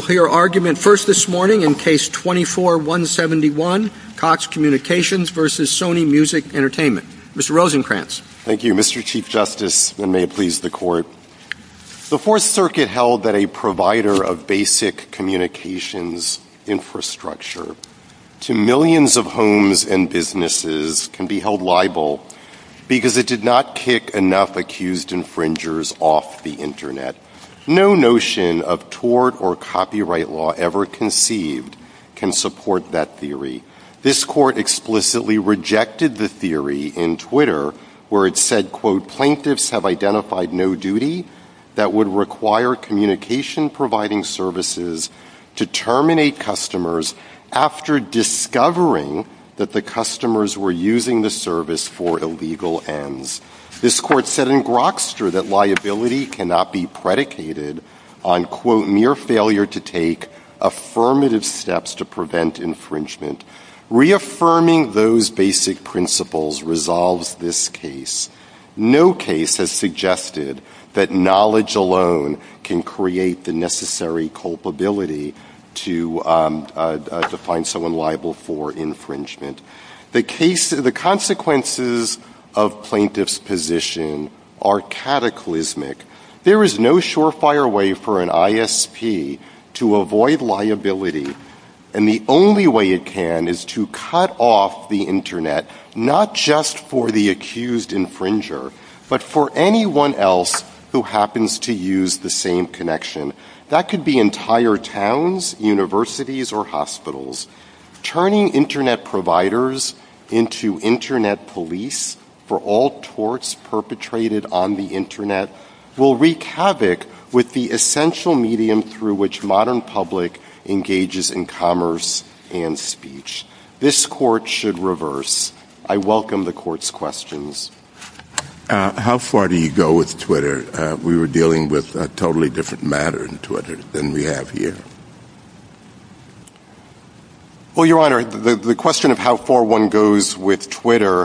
Fourth Circuit held that a provider of basic communications infrastructure to millions of homes and businesses can be held liable because it did not kick enough accused infringers off the Internet. No notion of tort or copyright law ever conceived can support that theory. This court explicitly rejected the theory in Twitter where it said, quote, Plaintiffs have identified no duty that would require communication providing services to terminate customers after discovering that the customers were using the service for illegal ends. This court said in Grokster that liability cannot be predicated on, quote, mere failure to take affirmative steps to prevent infringement. Reaffirming those basic principles resolves this case. No case has suggested that knowledge alone can create the necessary culpability to find someone liable for infringement. The consequences of plaintiff's position are cataclysmic. There is no surefire way for an ISP to avoid liability, and the only way it can is to cut off the Internet, not just for the accused infringer, but for anyone else who happens to use the same connection. That could be entire towns, universities, or hospitals. Turning Internet providers into Internet police for all torts perpetrated on the Internet will wreak havoc with the essential medium through which modern public engages in commerce and speech. This court should reverse. I welcome the court's questions. How far do you go with Twitter? We were dealing with a totally different matter than we have here. Well, Your Honor, the question of how far one goes with Twitter,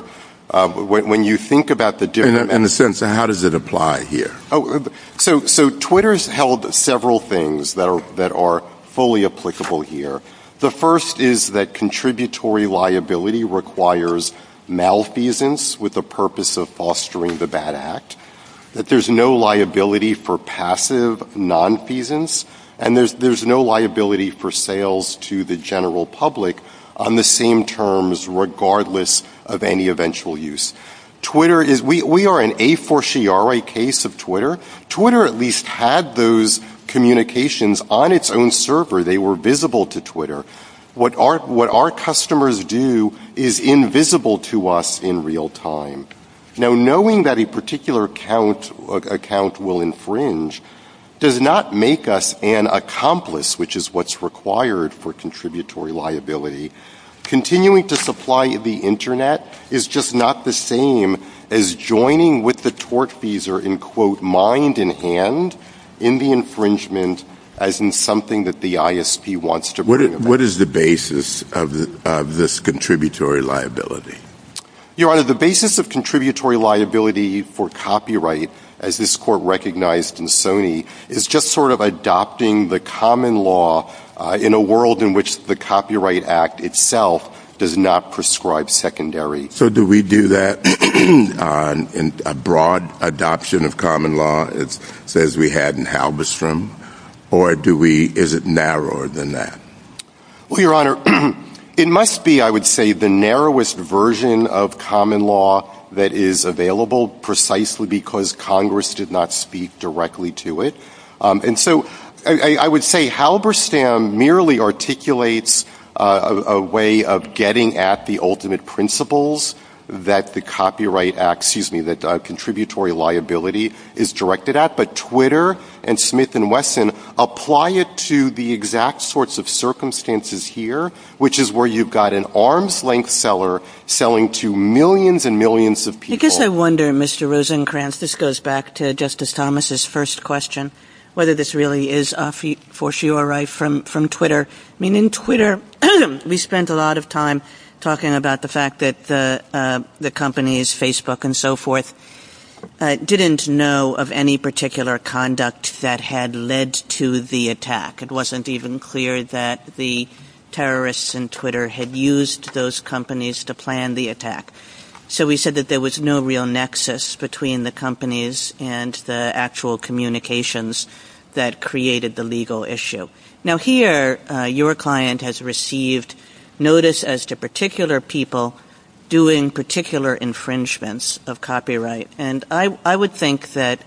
when you think about the different... In the sense of how does it apply here? Oh, so Twitter's held several things that are fully applicable here. The first is that contributory liability requires malfeasance with the purpose of fostering the bad act. There's no liability for passive nonfeasance, and there's no liability for sales to the general public on the same terms regardless of any eventual use. We are an a-for-she-are case of Twitter. Twitter at least had those communications on its own server. They were visible to Twitter. What our customers do is invisible to us in real time. Knowing that a particular account will infringe does not make us an accomplice, which is what's required for contributory liability. Continuing to supply the internet is just not the same as joining with the tortfeasor in quote mind and hand in the infringement as in something that the ISP wants to... What is the basis of this contributory liability? Your Honor, the basis of contributory liability for copyright, as this court recognized in Sony, is just sort of adopting the common law in a world in which the Copyright Act itself does not prescribe secondary. So do we do that in a broad adoption of common law as we had in Halberstam, or is it narrower than that? Well, Your Honor, it must be, I would say, the narrowest version of common law that is available precisely because Congress did not speak directly to it. And so I would say Halberstam merely articulates a way of getting at the ultimate principles that the Copyright Act, excuse me, that contributory liability is directed at. But Twitter and Smith & Wesson apply it to the exact sorts of circumstances here, which is where you've got an arm's length seller selling to millions and millions of people. I guess I wonder, Mr. Rosenkranz, this goes back to Justice Thomas's first question, whether this really is a fortiori from Twitter. I mean, in Twitter, we spent a lot of time talking about the fact that the companies, Facebook and so forth, didn't know of any particular conduct that had led to the attack. It wasn't even clear that the terrorists in Twitter had used those companies to plan the So we said that there was no real nexus between the companies and the actual communications that created the legal issue. Now, here, your client has received notice as to particular people doing particular infringements of copyright. And I would think that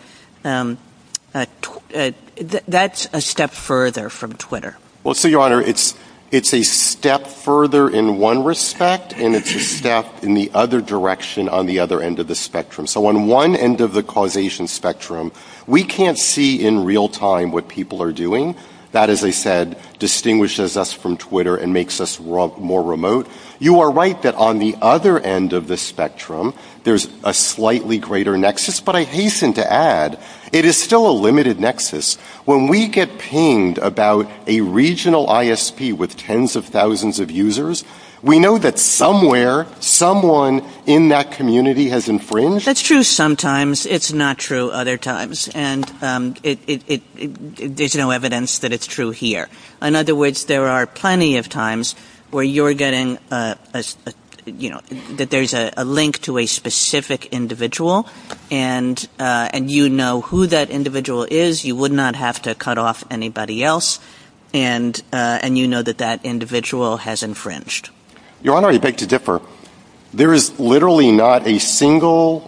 that's a step further from Twitter. Well, so, Your Honor, it's a step further in one respect, and it's a step in the other direction on the other end of the spectrum. So on one end of the causation spectrum, we can't see in real time what people are doing. That, as I said, distinguishes us from Twitter and makes us more remote. You are right that on the other end of the spectrum, there's a slightly greater nexus. But I hasten to add, it is still a limited nexus. When we get pinged about a regional ISP with tens of thousands of users, we know that somewhere, someone in that community has infringed. That's true sometimes. It's not true other times. And there's no evidence that it's true here. In other words, there are plenty of times where you're getting, you know, that there's a link to a specific individual, and you know who that individual is. You would not have to cut off anybody else. And you know that that individual has infringed. Your Honor, I beg to differ. There is literally not a single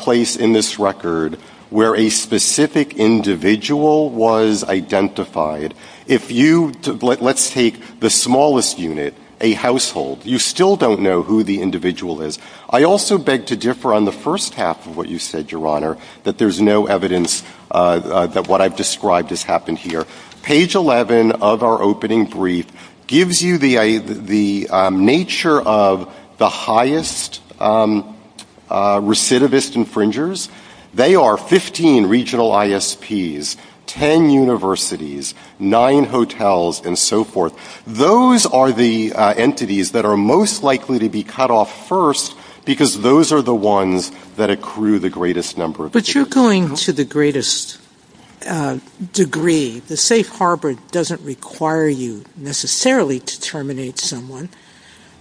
place in this record where a specific individual was identified. If you, let's take the smallest unit, a household, you still don't know who the individual is. I also beg to differ on the first half of what you said, Your Honor, that there's no evidence that what I've described has happened here. Page 11 of our opening brief gives you the nature of the highest recidivist infringers. They are 15 regional ISPs, 10 universities, 9 hotels, and so forth. Those are the entities that are most likely to be cut off first, because those are the ones that accrue the greatest number. But you're going to the greatest degree. The safe harbor doesn't require you necessarily to terminate someone.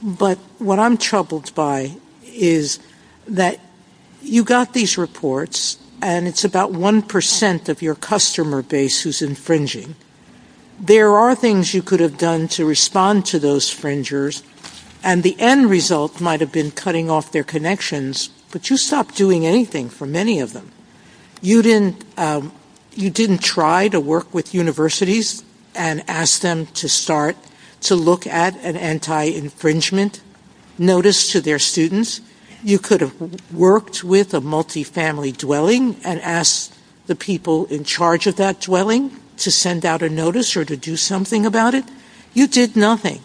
But what I'm troubled by is that you got these reports, and it's about 1% of your customer base who's infringing. There are things you could have done to respond to those infringers, and the end result might have been cutting off their connections. But you stopped doing anything for many of them. You didn't try to work with universities and ask them to start to look at an anti-infringement notice to their students. You could have worked with a multifamily dwelling and asked the people in charge of that dwelling to send out a notice or to do something about it. You did nothing.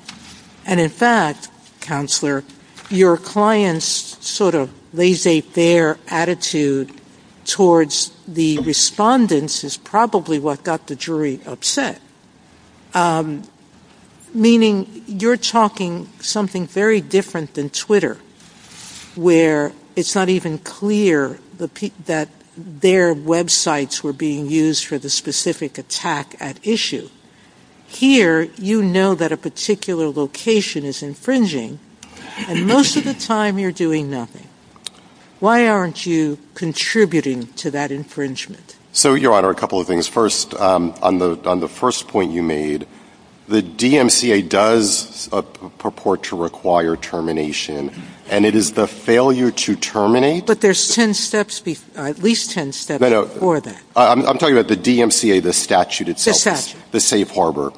And in fact, counselor, your client's sort of laissez-faire attitude towards the respondents is probably what got the jury upset, meaning you're talking something very different than Twitter, where it's not even clear that their websites were being used for the specific attack at issue. Here, you know that a particular location is infringing, and most of the time you're doing nothing. Why aren't you contributing to that infringement? So, Your Honor, a couple of things. First, on the first point you made, the DMCA does purport to require termination, and it is the failure to terminate— But there's at least 10 steps before that. I'm talking about the DMCA, the statute itself. The statute. The safe harbor.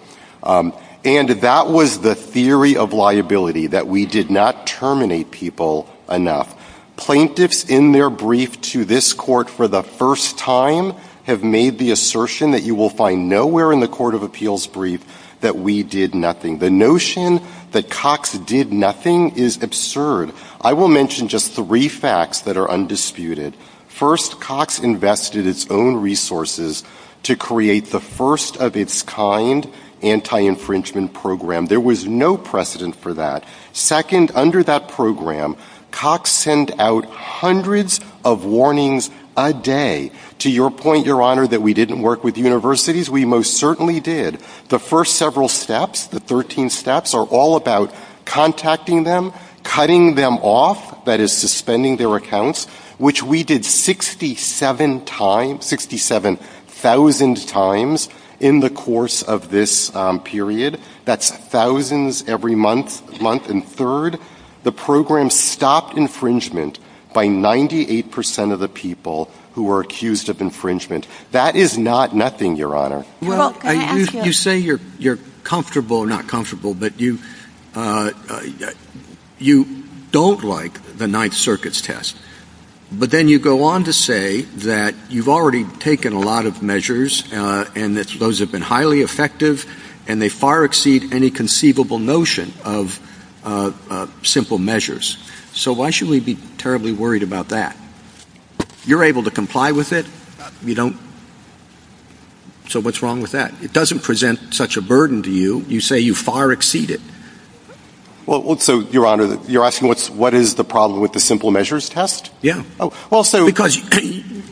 And that was the theory of liability, that we did not terminate people enough. Plaintiffs in their brief to this court for the first time have made the assertion that you will find nowhere in the Court of Appeals brief that we did nothing. The notion that Cox did nothing is absurd. I will mention just three facts that are undisputed. First, Cox invested its own resources to create the first of its kind anti-infringement program. There was no precedent for that. Second, under that program, Cox sent out hundreds of warnings a day. To your point, Your Honor, that we didn't work with universities, we most certainly did. The first several steps, the 13 steps, are all about contacting them, cutting them off, that is, suspending their accounts, which we did 67 times—67,000 times—in the course of this period. That's thousands every month, month and third. The program stopped infringement by 98 percent of the people who were accused of infringement. That is not nothing, Your Honor. Well, you say you're comfortable or not comfortable, but you don't like the Ninth Circuit's test. But then you go on to say that you've already taken a lot of measures, and that those have been highly effective, and they far exceed any conceivable notion of simple measures. So why should we be terribly worried about that? You're able to comply with it. You don't—so what's wrong with that? It doesn't present such a burden to you. You say you far exceed it. Well, so, Your Honor, you're asking what is the problem with the simple measures test? Yeah. Oh, well, so— Because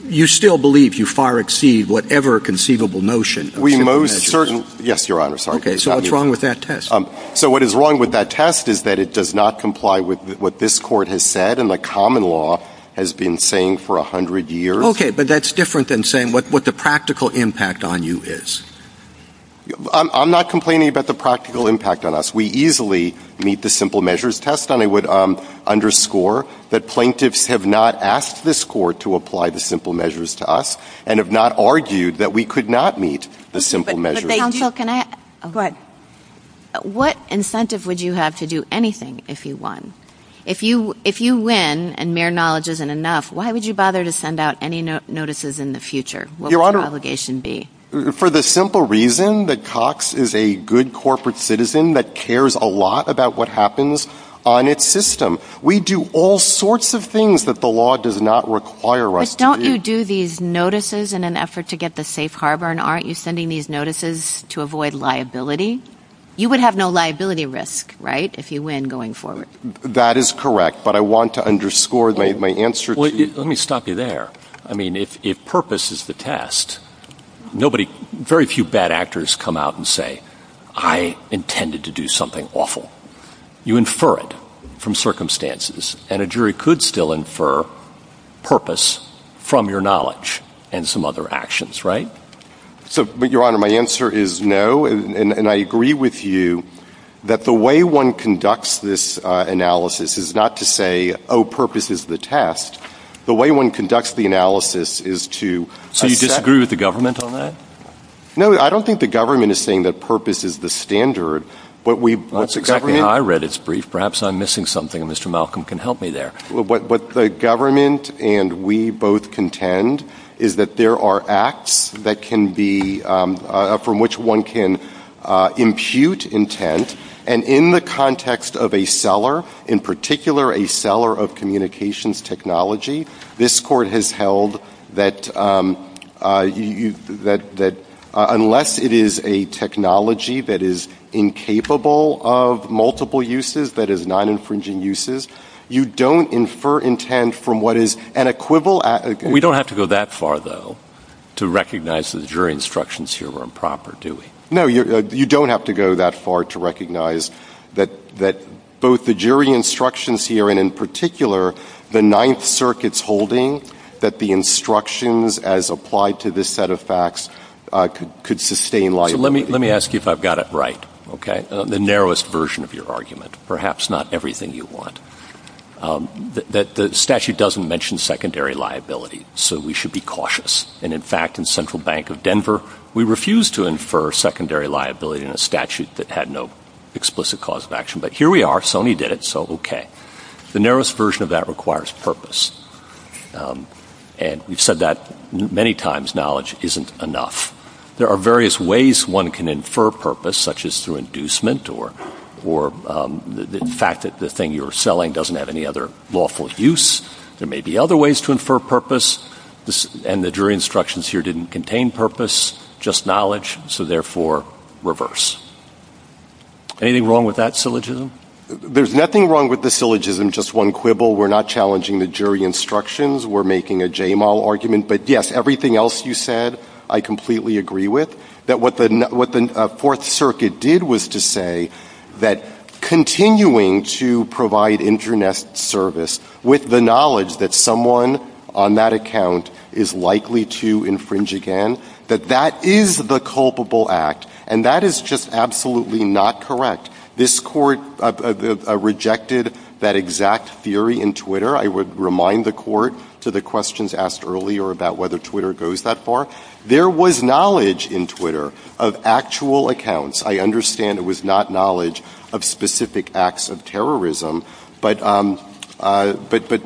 you still believe you far exceed whatever conceivable notion of simple measures. We most certainly—yes, Your Honor, sorry. Okay, so what's wrong with that test? So what is wrong with that test is that it does not comply with what this Court has said and the common law has been saying for 100 years. Okay, but that's different than saying what the practical impact on you is. I'm not complaining about the practical impact on us. We easily meet the simple measures test, and I would underscore that plaintiffs have not asked this Court to apply the simple measures to us and have not argued that we could not meet the simple measures. But, counsel, can I— Go ahead. What incentive would you have to do anything if you won? If you win and mere knowledge isn't enough, why would you bother to send out any notices in the future? What would your obligation be? For the simple reason that Cox is a good corporate citizen that cares a lot about what happens on its system. We do all sorts of things that the law does not require us to do. But don't you do these notices in an effort to get to safe harbor, and aren't you sending these notices to avoid liability? You would have no liability risk, right, if you win going forward. That is correct, but I want to underscore my answer to— Let me stop you there. I mean, if purpose is the test, nobody—very few bad actors come out and say, I intended to do something awful. You infer it from circumstances, and a jury could still infer purpose from your knowledge and some other actions, right? So, but, Your Honor, my answer is no, and I agree with you that the way one conducts this analysis is not to say, oh, purpose is the test. The way one conducts the analysis is to— So you disagree with the government on that? No, I don't think the government is saying that purpose is the standard, but we— That's exactly how I read its brief. Perhaps I'm missing something, and Mr. Malcolm can help me there. What the government and we both contend is that there are acts that can be—from which one can impute intent, and in the context of a seller, in particular a seller of communications technology, this Court has held that unless it is a technology that is incapable of multiple uses, that is, non-infringing uses, you don't infer intent from what is an equivalent— We don't have to go that far, though, to recognize that the jury instructions here are improper, do we? No, you don't have to go that far to recognize that both the jury instructions here, and in particular, the Ninth Circuit's holding that the instructions as applied to this set of facts could sustain liability. Let me ask you if I've got it right, okay? The narrowest version of your argument. Perhaps not everything you want. The statute doesn't mention secondary liability, so we should be cautious. And in fact, in Central Bank of Denver, we refused to infer secondary liability in a statute that had no explicit cause of action. But here we are. Sony did it, so okay. The narrowest version of that requires purpose. And we've said that many times. Knowledge isn't enough. There are various ways one can infer purpose, such as through inducement or the fact that the thing you're selling doesn't have any other lawful use. There may be other ways to infer purpose. And the jury instructions here didn't contain purpose, just knowledge. So therefore, reverse. Anything wrong with that syllogism? There's nothing wrong with the syllogism, just one quibble. We're not challenging the jury instructions. We're making a JMAL argument. But yes, everything else you said, I completely agree with. That what the Fourth Circuit did was to say that continuing to provide internist service with the knowledge that someone on that account is likely to infringe again, that that is the culpable act. And that is just absolutely not correct. This court rejected that exact theory in Twitter. I would remind the court to the questions asked earlier about whether Twitter goes that far. There was knowledge in Twitter of actual accounts. I understand it was not knowledge of specific acts of terrorism. But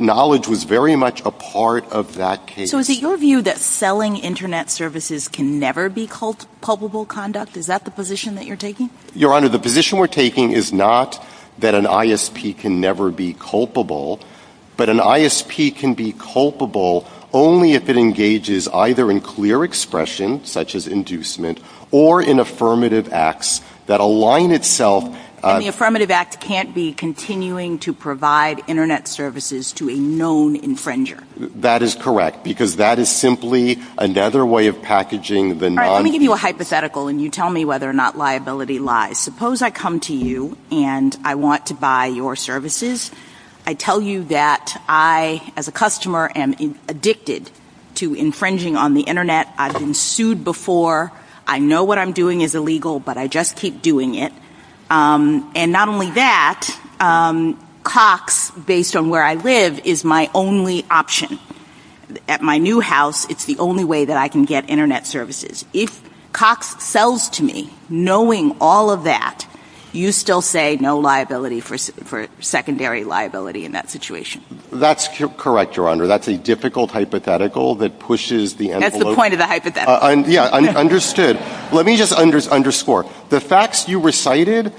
knowledge was very much a part of that case. So is it your view that selling Internet services can never be culpable conduct? Is that the position that you're taking? Your Honor, the position we're taking is not that an ISP can never be culpable, but an ISP can be culpable only if it engages either in clear expression, such as inducement, or in affirmative acts that align itself. And the affirmative act can't be continuing to provide Internet services to a known infringer. That is correct. Because that is simply another way of packaging the non... Let me give you a hypothetical and you tell me whether or not liability lies. Suppose I come to you and I want to buy your services. I tell you that I, as a customer, am addicted to infringing on the Internet. I've been sued before. I know what I'm doing is illegal, but I just keep doing it. And not only that, Cox, based on where I live, is my only option. At my new house, it's the only way that I can get Internet services. If Cox sells to me, knowing all of that, you still say no liability for secondary liability in that situation. That's correct, Your Honor. That's a difficult hypothetical that pushes the envelope. That's the point of the hypothetical. Yeah, understood. Let me just underscore. The facts you recited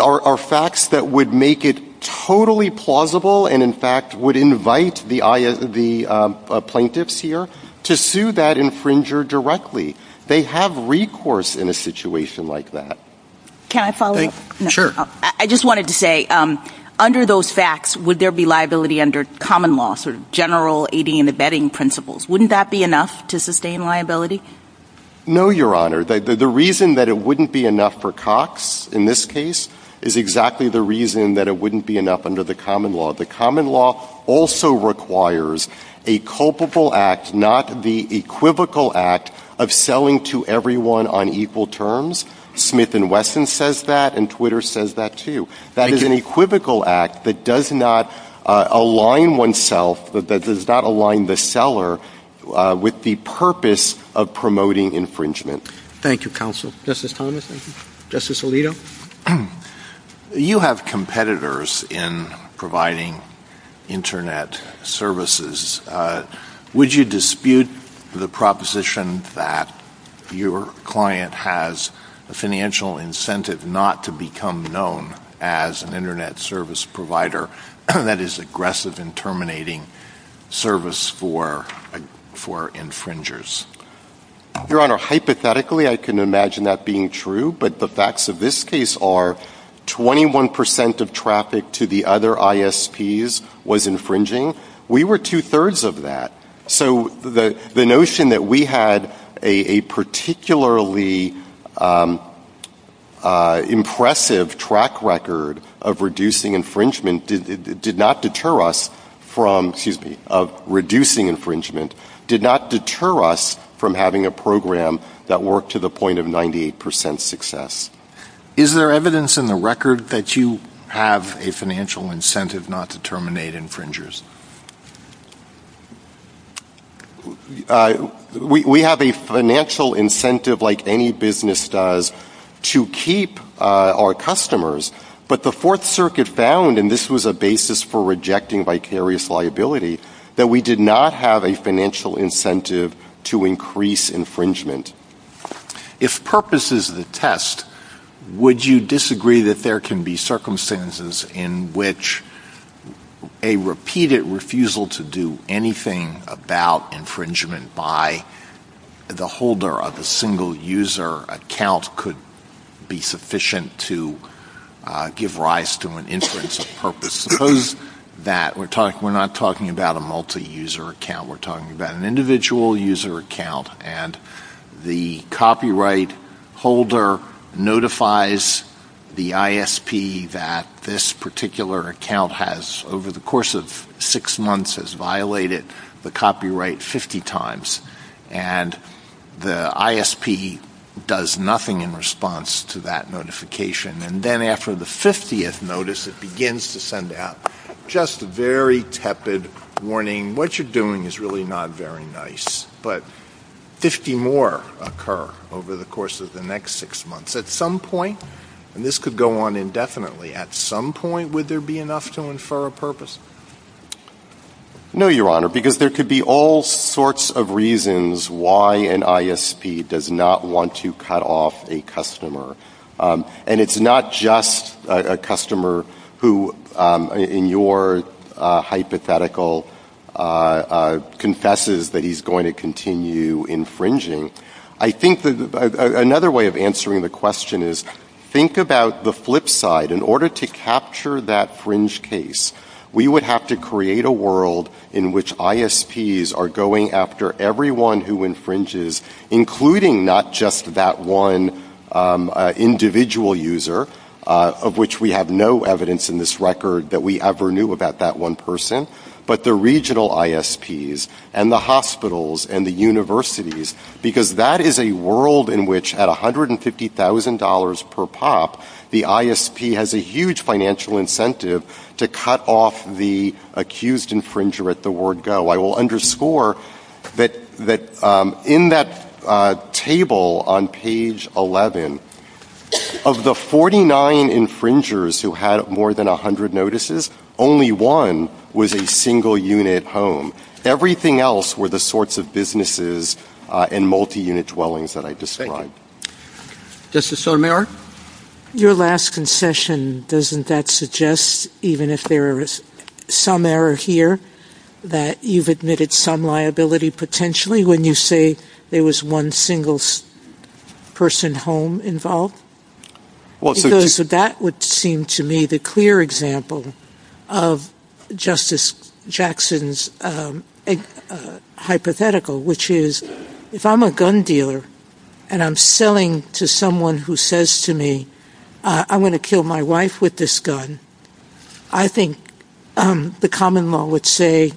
are facts that would make it totally plausible and, in fact, would invite the plaintiffs here to sue that infringer directly. They have recourse in a situation like that. Can I follow up? Sure. I just wanted to say, under those facts, would there be liability under common law, sort of general aiding and abetting principles? Wouldn't that be enough to sustain liability? No, Your Honor. The reason that it wouldn't be enough for Cox, in this case, is exactly the reason that it wouldn't be enough under the common law. The common law also requires a culpable act, not the equivocal act, of selling to everyone on equal terms. Smith & Wesson says that, and Twitter says that, too. That is an equivocal act that does not align oneself, that does not align the seller with the purpose of promoting infringement. Thank you, counsel. Justice Thomas, thank you. Justice Alito? You have competitors in providing Internet services. Would you dispute the proposition that your client has a financial incentive not to become known as an Internet service provider that is aggressive in terminating service for infringers? Your Honor, hypothetically, I can imagine that being true. But the facts of this case are 21% of traffic to the other ISPs was infringing. We were two-thirds of that. So the notion that we had a particularly impressive track record of reducing infringement did not deter us from, excuse me, of reducing infringement, did not deter us from having a program that worked to the point of 98% success. Is there evidence in the record that you have a financial incentive not to terminate infringers? We have a financial incentive, like any business does, to keep our customers. But the Fourth Circuit found, and this was a basis for rejecting vicarious liability, that we did not have a financial incentive to increase infringement. If purpose is the test, would you disagree that there can be circumstances in which a repeated refusal to do anything about infringement by the holder of a single user account could be sufficient to give rise to an instance of purpose? Suppose that we're not talking about a multi-user account. We're talking about an individual user account. And the copyright holder notifies the ISP that this particular account has, over the course of six months, has violated the copyright 50 times. And the ISP does nothing in response to that notification. And then after the 50th notice, it begins to send out just a very tepid warning, what you're doing is really not very nice. But 50 more occur over the course of the next six months. At some point, and this could go on indefinitely, at some point would there be enough to infer a purpose? No, Your Honor, because there could be all sorts of reasons why an ISP does not want to cut off a customer. And it's not just a customer who, in your hypothetical, confesses that he's going to continue infringing. I think another way of answering the question is, think about the flip side. In order to capture that fringe case, we would have to create a world in which ISPs are going after everyone who infringes, including not just that one individual user, of which we have no evidence in this record that we ever knew about that one person, but the regional ISPs and the hospitals and the universities, because that is a world in which at $150,000 per pop, the ISP has a huge financial incentive to cut off the accused infringer at the word go. I will underscore that in that table on page 11, of the 49 infringers who had more than 100 notices, only one was a single-unit home. Everything else were the sorts of businesses and multi-unit dwellings that I described. Justice Sotomayor? Your last concession, doesn't that suggest, even if there is some error here, that you've admitted some liability, potentially, when you say there was one single-person home involved? That would seem to me the clear example of Justice Jackson's hypothetical, which is, if I'm a gun dealer and I'm selling to someone who says to me, I want to kill my wife with this gun, I think the common law would say,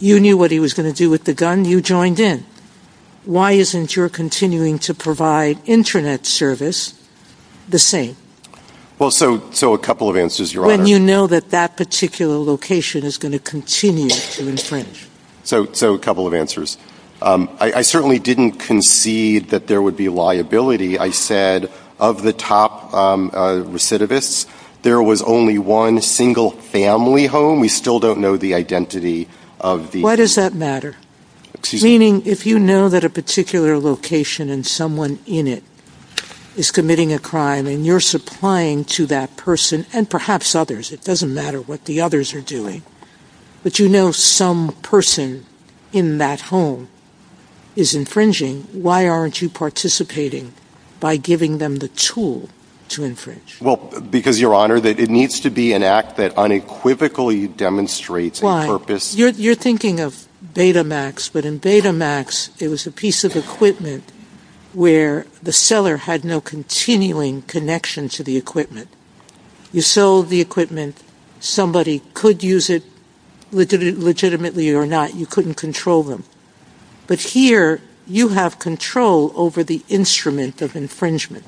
you knew what he was going to do with the gun, you joined in. Why isn't your continuing to provide internet service the same? Well, so a couple of answers, Your Honor. When you know that that particular location is going to continue to infringe. So a couple of answers. I certainly didn't concede that there would be liability. I said, of the top recidivists, there was only one single-family home. We still don't know the identity of the... Why does that matter? Meaning, if you know that a particular location and someone in it is committing a crime, and you're supplying to that person, and perhaps others, it doesn't matter what the others are doing, but you know some person in that home is infringing, why aren't you participating by giving them the tool to infringe? Well, because, Your Honor, it needs to be an act that unequivocally demonstrates a purpose. You're thinking of Betamax, but in Betamax, it was a piece of equipment where the seller had no continuing connection to the equipment. You sold the equipment, somebody could use it legitimately or not, you couldn't control them. But here, you have control over the instrument of infringement.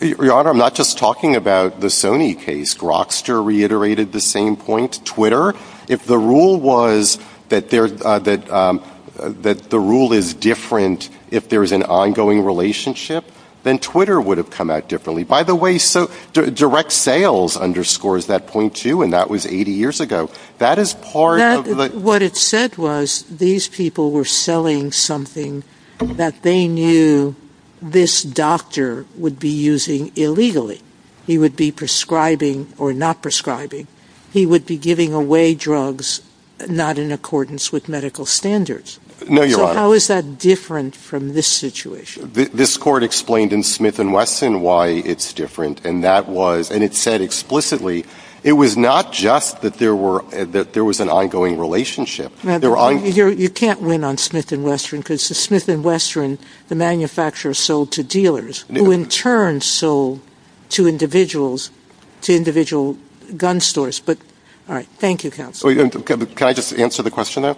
Your Honor, I'm not just talking about the Sony case. Rockster reiterated the same point. Twitter, if the rule was that the rule is different if there's an ongoing relationship, then Twitter would have come out differently. By the way, direct sales underscores that point too, and that was 80 years ago. That is part of the... What it said was, these people were selling something that they knew this doctor would be using illegally. He would be prescribing or not prescribing. He would be giving away drugs not in accordance with medical standards. No, Your Honor. So how is that different from this situation? This court explained in Smith & Wesson why it's different, and it said explicitly, it was not just that there was an ongoing relationship. You can't win on Smith & Wesson because the manufacturers sold to dealers, who in turn sold to individuals, to individual gun stores. Thank you, counsel. Can I just answer the question there?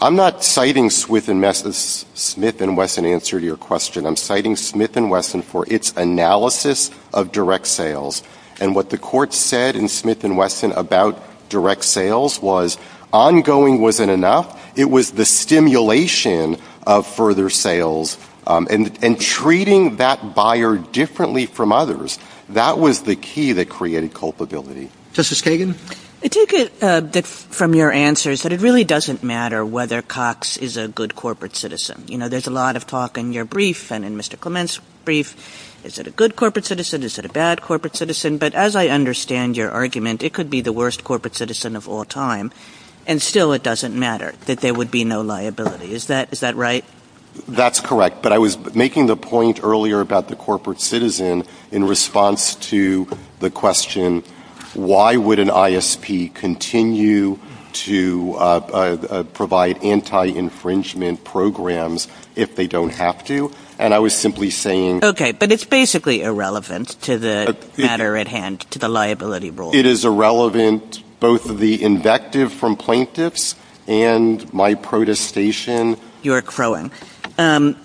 I'm not citing Smith & Wesson's answer to your question. I'm citing Smith & Wesson for its analysis of direct sales. And what the court said in Smith & Wesson about direct sales was, ongoing wasn't enough. It was the stimulation of further sales and treating that buyer differently from others. That was the key that created culpability. Justice Kagan? I take it from your answers that it really doesn't matter whether Cox is a good corporate citizen. You know, there's a lot of talk in your brief and in Mr. Clement's brief. Is it a good corporate citizen? Is it a bad corporate citizen? But as I understand your argument, it could be the worst corporate citizen of all time. And still, it doesn't matter that there would be no liability. Is that right? That's correct. But I was making the point earlier about the corporate citizen in response to the question, why would an ISP continue to provide anti-infringement programs if they don't have to? And I was simply saying... Okay, but it's basically irrelevant to the matter at hand, to the liability rule. It is irrelevant, both the invective from plaintiffs and my protestation. You're crowing. And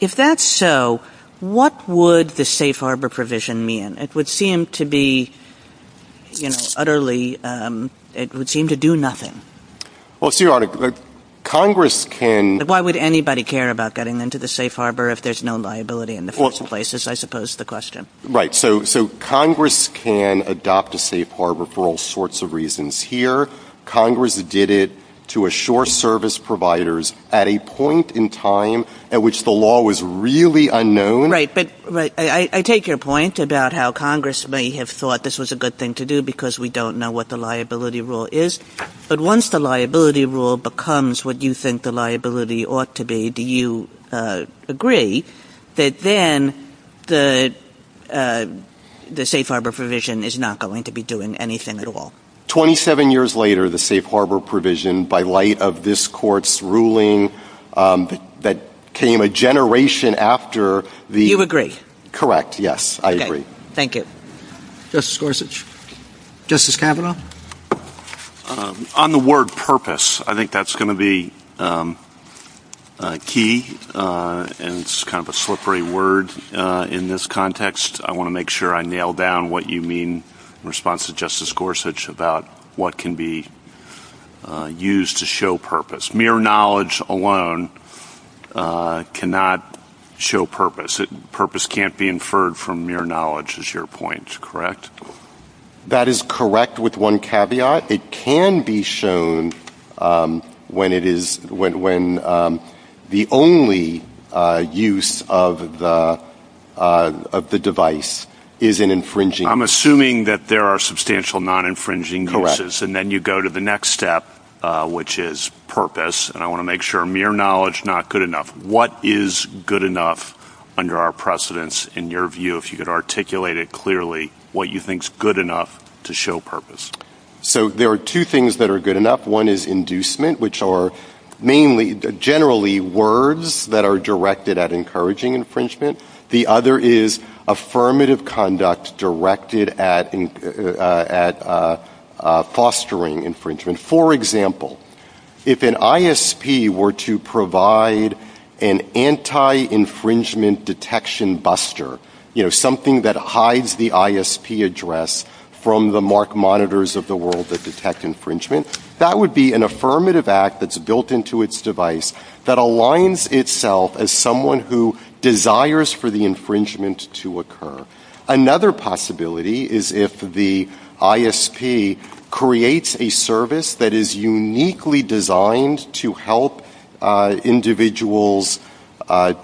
if that's so, what would the safe harbor provision mean? It would seem to be, you know, utterly, it would seem to do nothing. Well, see, Your Honor, Congress can... Why would anybody care about getting into the safe harbor if there's no liability in the first place, is I suppose the question. Right, so Congress can adopt a safe harbor for all sorts of reasons. Here, Congress did it to assure service providers at a point in time at which the law was really unknown. Right, but I take your point about how Congress may have thought this was a good thing to do because we don't know what the liability rule is. But once the liability rule becomes what you think the liability ought to be, do you agree that then the safe harbor provision is not going to be doing anything at all? 27 years later, the safe harbor provision, by light of this court's ruling that came a generation after the... You agree? Correct, yes, I agree. Thank you. Justice Gorsuch. Justice Kavanaugh. On the word purpose, I think that's going to be key, and it's kind of a slippery word in this context. I want to make sure I nail down what you mean in response to Justice Gorsuch about what can be used to show purpose. Mere knowledge alone cannot show purpose. Purpose can't be inferred from mere knowledge, is your point, correct? That is correct with one caveat. It can be shown when the only use of the device is an infringing... I'm assuming that there are substantial non-infringing uses, and then you go to the next step, which is purpose, and I want to make sure mere knowledge, not good enough. What is good enough under our precedence, in your view, if you could articulate it clearly, what you think is good enough to show purpose? There are two things that are good enough. One is inducement, which are generally words that are directed at encouraging infringement. The other is affirmative conduct directed at fostering infringement. For example, if an ISP were to provide an anti-infringement detection buster, something that hides the ISP address from the mark monitors of the world that detect infringement, that would be an affirmative act that's built into its device that aligns itself as someone who desires for the infringement to occur. Another possibility is if the ISP creates a service that is uniquely designed to help individuals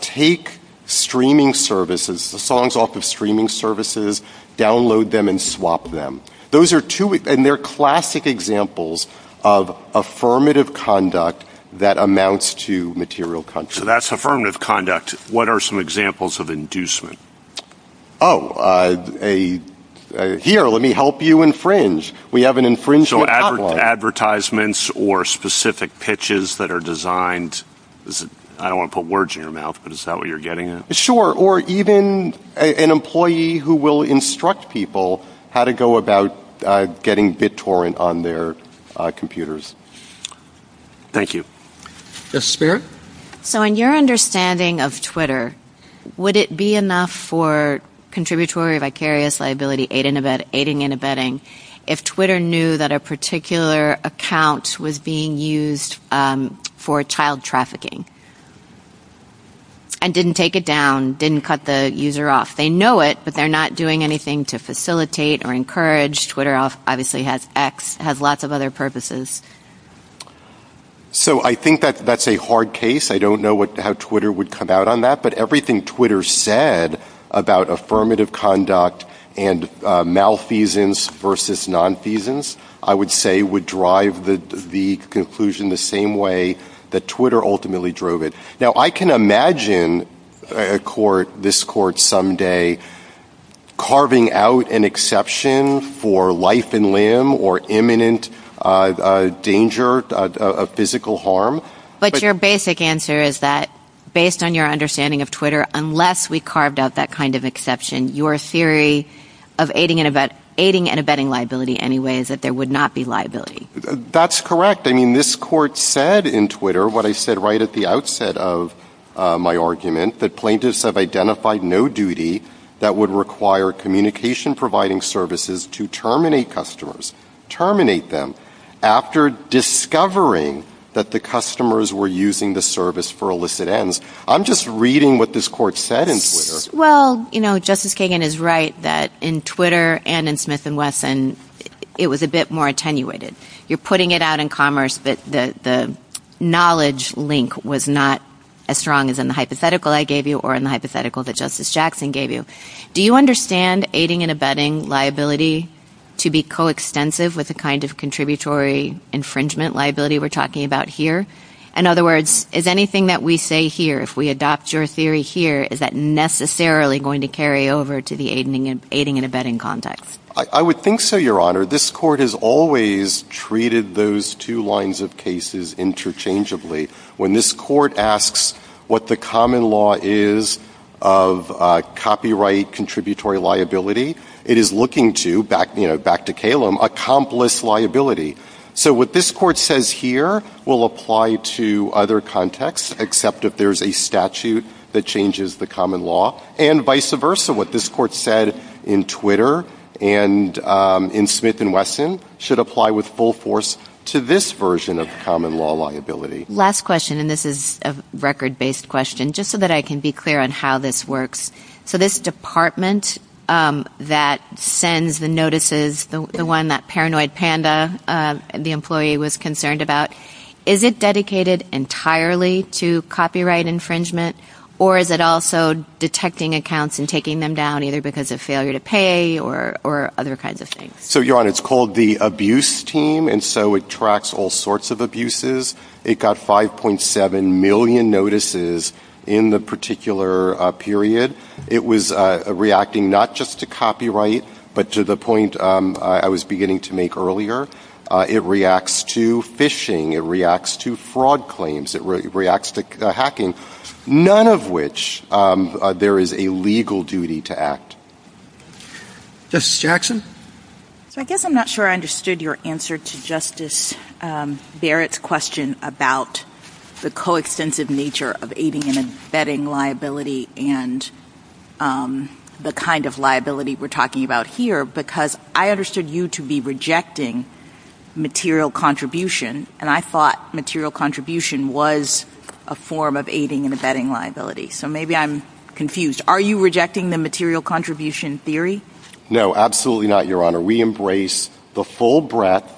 take streaming services, the songs off of streaming services, download them and swap them. Those are classic examples of affirmative conduct that amounts to material content. So that's affirmative conduct. What are some examples of inducement? Oh, here, let me help you infringe. We have an infringement outline. Advertisements or specific pitches that are designed, I don't want to put words in your mouth, but is that what you're getting at? Sure. Or even an employee who will instruct people how to go about getting BitTorrent on their computers. Thank you. So in your understanding of Twitter, would it be enough for contributory vicarious liability aiding and abetting if Twitter knew that a particular account was being used for child trafficking and didn't take it down, didn't cut the user off? They know it, but they're not doing anything to facilitate or encourage. Twitter obviously has X, has lots of other purposes. So I think that's a hard case. I don't know how Twitter would come out on that. Everything Twitter said about affirmative conduct and malfeasance versus nonfeasance, I would say, would drive the conclusion the same way that Twitter ultimately drove it. Now, I can imagine this court someday carving out an exception for life and limb or imminent danger of physical harm. But your basic answer is that based on your understanding of Twitter, unless we carved out that kind of exception, your theory of aiding and abetting liability anyway is that there would not be liability. That's correct. I mean, this court said in Twitter what I said right at the outset of my argument, that plaintiffs have identified no duty that would require communication providing services to terminate customers, terminate them, after discovering that the customers were using the service for illicit ends. I'm just reading what this court said in Twitter. Well, you know, Justice Kagan is right that in Twitter and in Smith & Wesson, it was a bit more attenuated. You're putting it out in commerce, but the knowledge link was not as strong as in the hypothetical I gave you or in the hypothetical that Justice Jackson gave you. Do you understand aiding and abetting liability to be coextensive with the kind of contributory infringement liability we're talking about here? In other words, is anything that we say here, if we adopt your theory here, is that necessarily going to carry over to the aiding and abetting context? I would think so, Your Honor. This court has always treated those two lines of cases interchangeably. When this court asks what the common law is of copyright contributory liability, it is looking to, back to Kalem, accomplice liability. So what this court says here will apply to other contexts, except if there's a statute that changes the common law, and vice versa. What this court said in Twitter and in Smith & Wesson should apply with full force to this version of common law liability. Last question, and this is a record-based question, just so that I can be clear on how this works. So this department that sends the notices, the one that Paranoid Panda, the employee, was concerned about, is it dedicated entirely to copyright infringement, or is it also detecting accounts and taking them down either because of failure to pay or other kinds of things? So, Your Honor, it's called the abuse team, and so it tracks all sorts of abuses. It got 5.7 million notices in the particular period. It was reacting not just to copyright, but to the point I was beginning to make earlier. It reacts to phishing. It reacts to fraud claims. It reacts to hacking, none of which there is a legal duty to act. Justice Jackson? I guess I'm not sure I understood your answer to Justice Barrett's question about the coextensive nature of aiding and abetting liability and the kind of liability we're talking about here, because I understood you to be rejecting material contribution, and I thought material contribution was a form of aiding and abetting liability. So maybe I'm confused. Are you rejecting the material contribution theory? No, absolutely not, Your Honor. We embrace the full breadth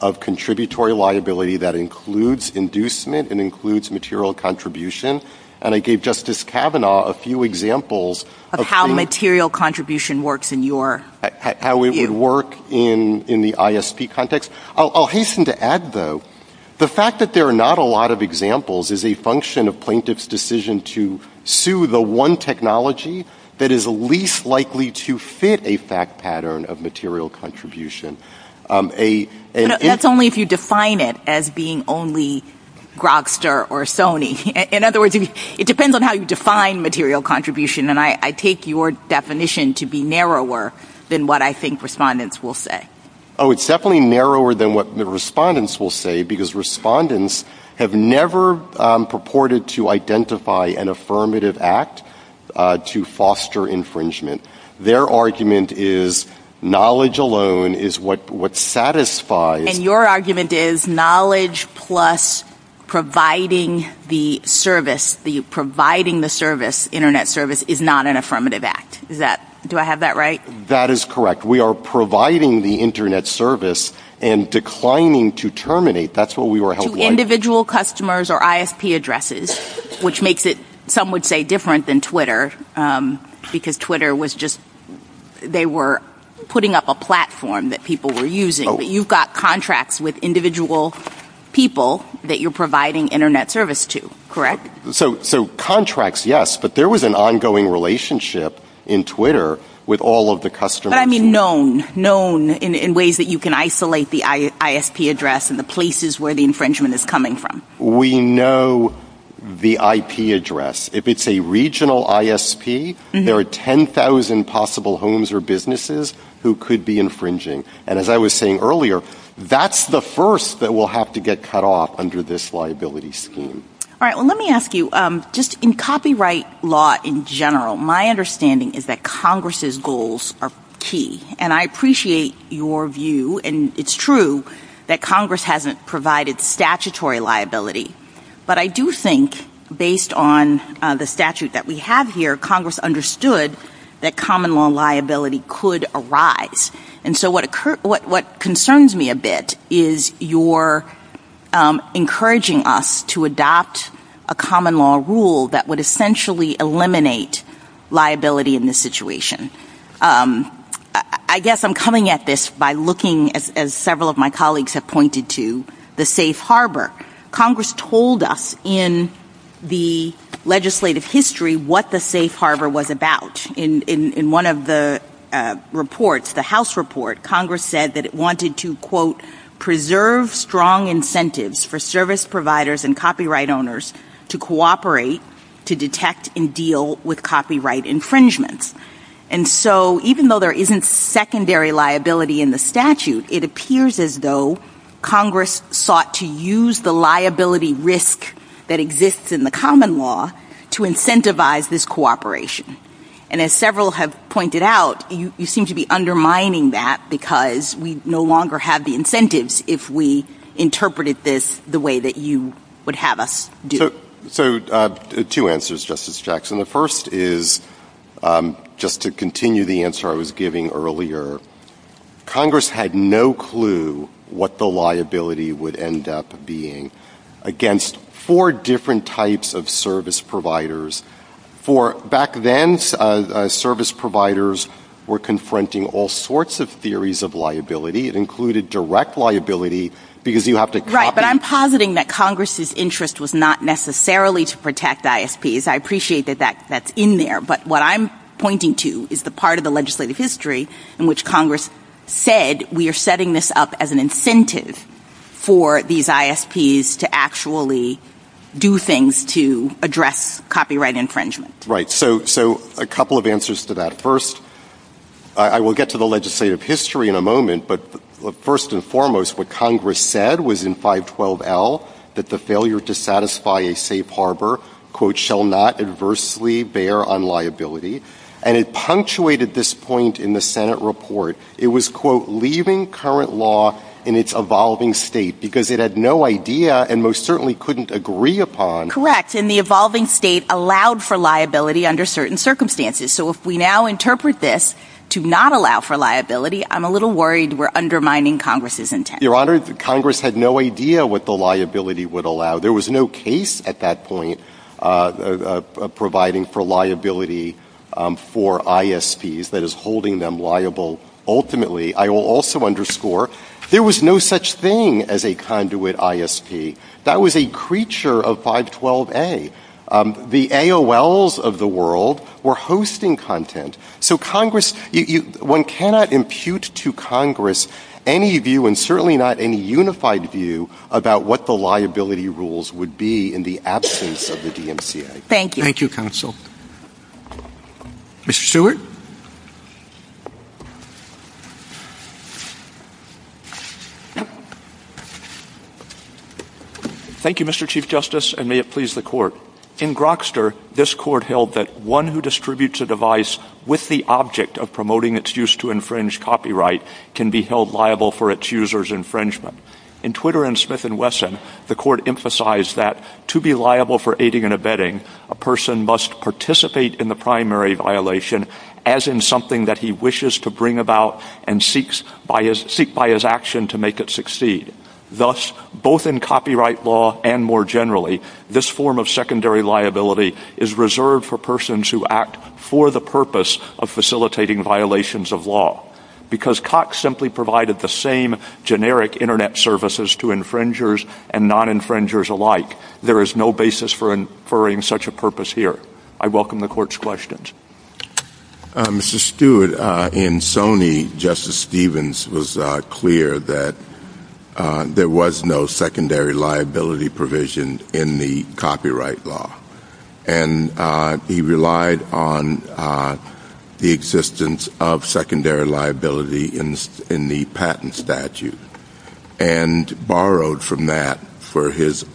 of contributory liability that includes inducement and includes material contribution, and I gave Justice Kavanaugh a few examples of how material contribution works in your view. How it would work in the ISP context. I'll hasten to add, though, the fact that there are not a lot of examples is a function of plaintiff's decision to sue the one technology that is least likely to fit a fact pattern of material contribution. That's only if you define it as being only Grokster or Sony. In other words, it depends on how you define material contribution, and I take your definition to be narrower than what I think respondents will say. Oh, it's definitely narrower than what the respondents will say, because respondents have never purported to identify an affirmative act to foster infringement. Their argument is knowledge alone is what satisfies. And your argument is knowledge plus providing the service, providing the service, internet service, is not an affirmative act. Do I have that right? That is correct. We are providing the internet service and declining to terminate. Individual customers or ISP addresses, which makes it, some would say, different than Twitter, because Twitter was just, they were putting up a platform that people were using. You've got contracts with individual people that you're providing internet service to, correct? So contracts, yes, but there was an ongoing relationship in Twitter with all of the customers. Known, known in ways that you can isolate the ISP address and the places where the infringement is coming from. We know the IP address. If it's a regional ISP, there are 10,000 possible homes or businesses who could be infringing. And as I was saying earlier, that's the first that will have to get cut off under this liability scheme. All right, well, let me ask you, just in copyright law in general, my understanding is that Congress's goals are key. And I appreciate your view, and it's true that Congress hasn't provided statutory liability. But I do think, based on the statute that we have here, Congress understood that common law liability could arise. And so what concerns me a bit is you're encouraging us to adopt a common law rule that essentially eliminate liability in this situation. I guess I'm coming at this by looking, as several of my colleagues have pointed to, the safe harbor. Congress told us in the legislative history what the safe harbor was about. In one of the reports, the House report, Congress said that it wanted to, quote, preserve strong incentives for service providers and copyright owners to cooperate to detect and deal with copyright infringements. And so even though there isn't secondary liability in the statute, it appears as though Congress sought to use the liability risk that exists in the common law to incentivize this cooperation. And as several have pointed out, you seem to be undermining that because we no longer have the incentives if we interpreted this the way that you would have us do. So two answers, Justice Jackson. The first is, just to continue the answer I was giving earlier, Congress had no clue what the liability would end up being against four different types of service providers. For back then, service providers were confronting all sorts of theories of liability, it included direct liability because you have to copy- Right, but I'm positing that Congress's interest was not necessarily to protect ISPs. I appreciate that that's in there. But what I'm pointing to is the part of the legislative history in which Congress said we are setting this up as an incentive for these ISPs to actually do things to address copyright infringement. Right, so a couple of answers to that. First, I will get to the legislative history in a moment, but first and foremost, what Congress said was in 512L that the failure to satisfy a safe harbor, quote, shall not adversely bear on liability. And it punctuated this point in the Senate report. It was, quote, leaving current law in its evolving state because it had no idea and most certainly couldn't agree upon- Correct, and the evolving state allowed for liability under certain circumstances. So if we now interpret this to not allow for liability, I'm a little worried we're undermining Congress's intent. Your Honor, Congress had no idea what the liability would allow. There was no case at that point providing for liability for ISPs that is holding them liable. Ultimately, I will also underscore, there was no such thing as a conduit ISP. That was a creature of 512A. The AOLs of the world were hosting content. So Congress, one cannot impute to Congress any view and certainly not any unified view about what the liability rules would be in the absence of the DMCA. Thank you. Thank you, Counsel. Mr. Stewart? Thank you, Mr. Chief Justice, and may it please the Court. In Grokster, this Court held that one who distributes a device with the object of promoting its use to infringe copyright can be held liable for its user's infringement. In Twitter and Smith and Wesson, the Court emphasized that to be liable for aiding and abetting, a person must participate in the primary violation as in something that he wishes to bring about and seek by his action to make it succeed. Thus, both in copyright law and more generally, this form of secondary liability is reserved for persons who act for the purpose of facilitating violations of law. Because Cox simply provided the same generic internet services to infringers and non-infringers alike, there is no basis for inferring such a purpose here. I welcome the Court's questions. Mr. Stewart, in Sony, Justice Stevens was clear that there was no secondary liability provision in the copyright law, and he relied on the existence of secondary liability in the patent statute and borrowed from that for his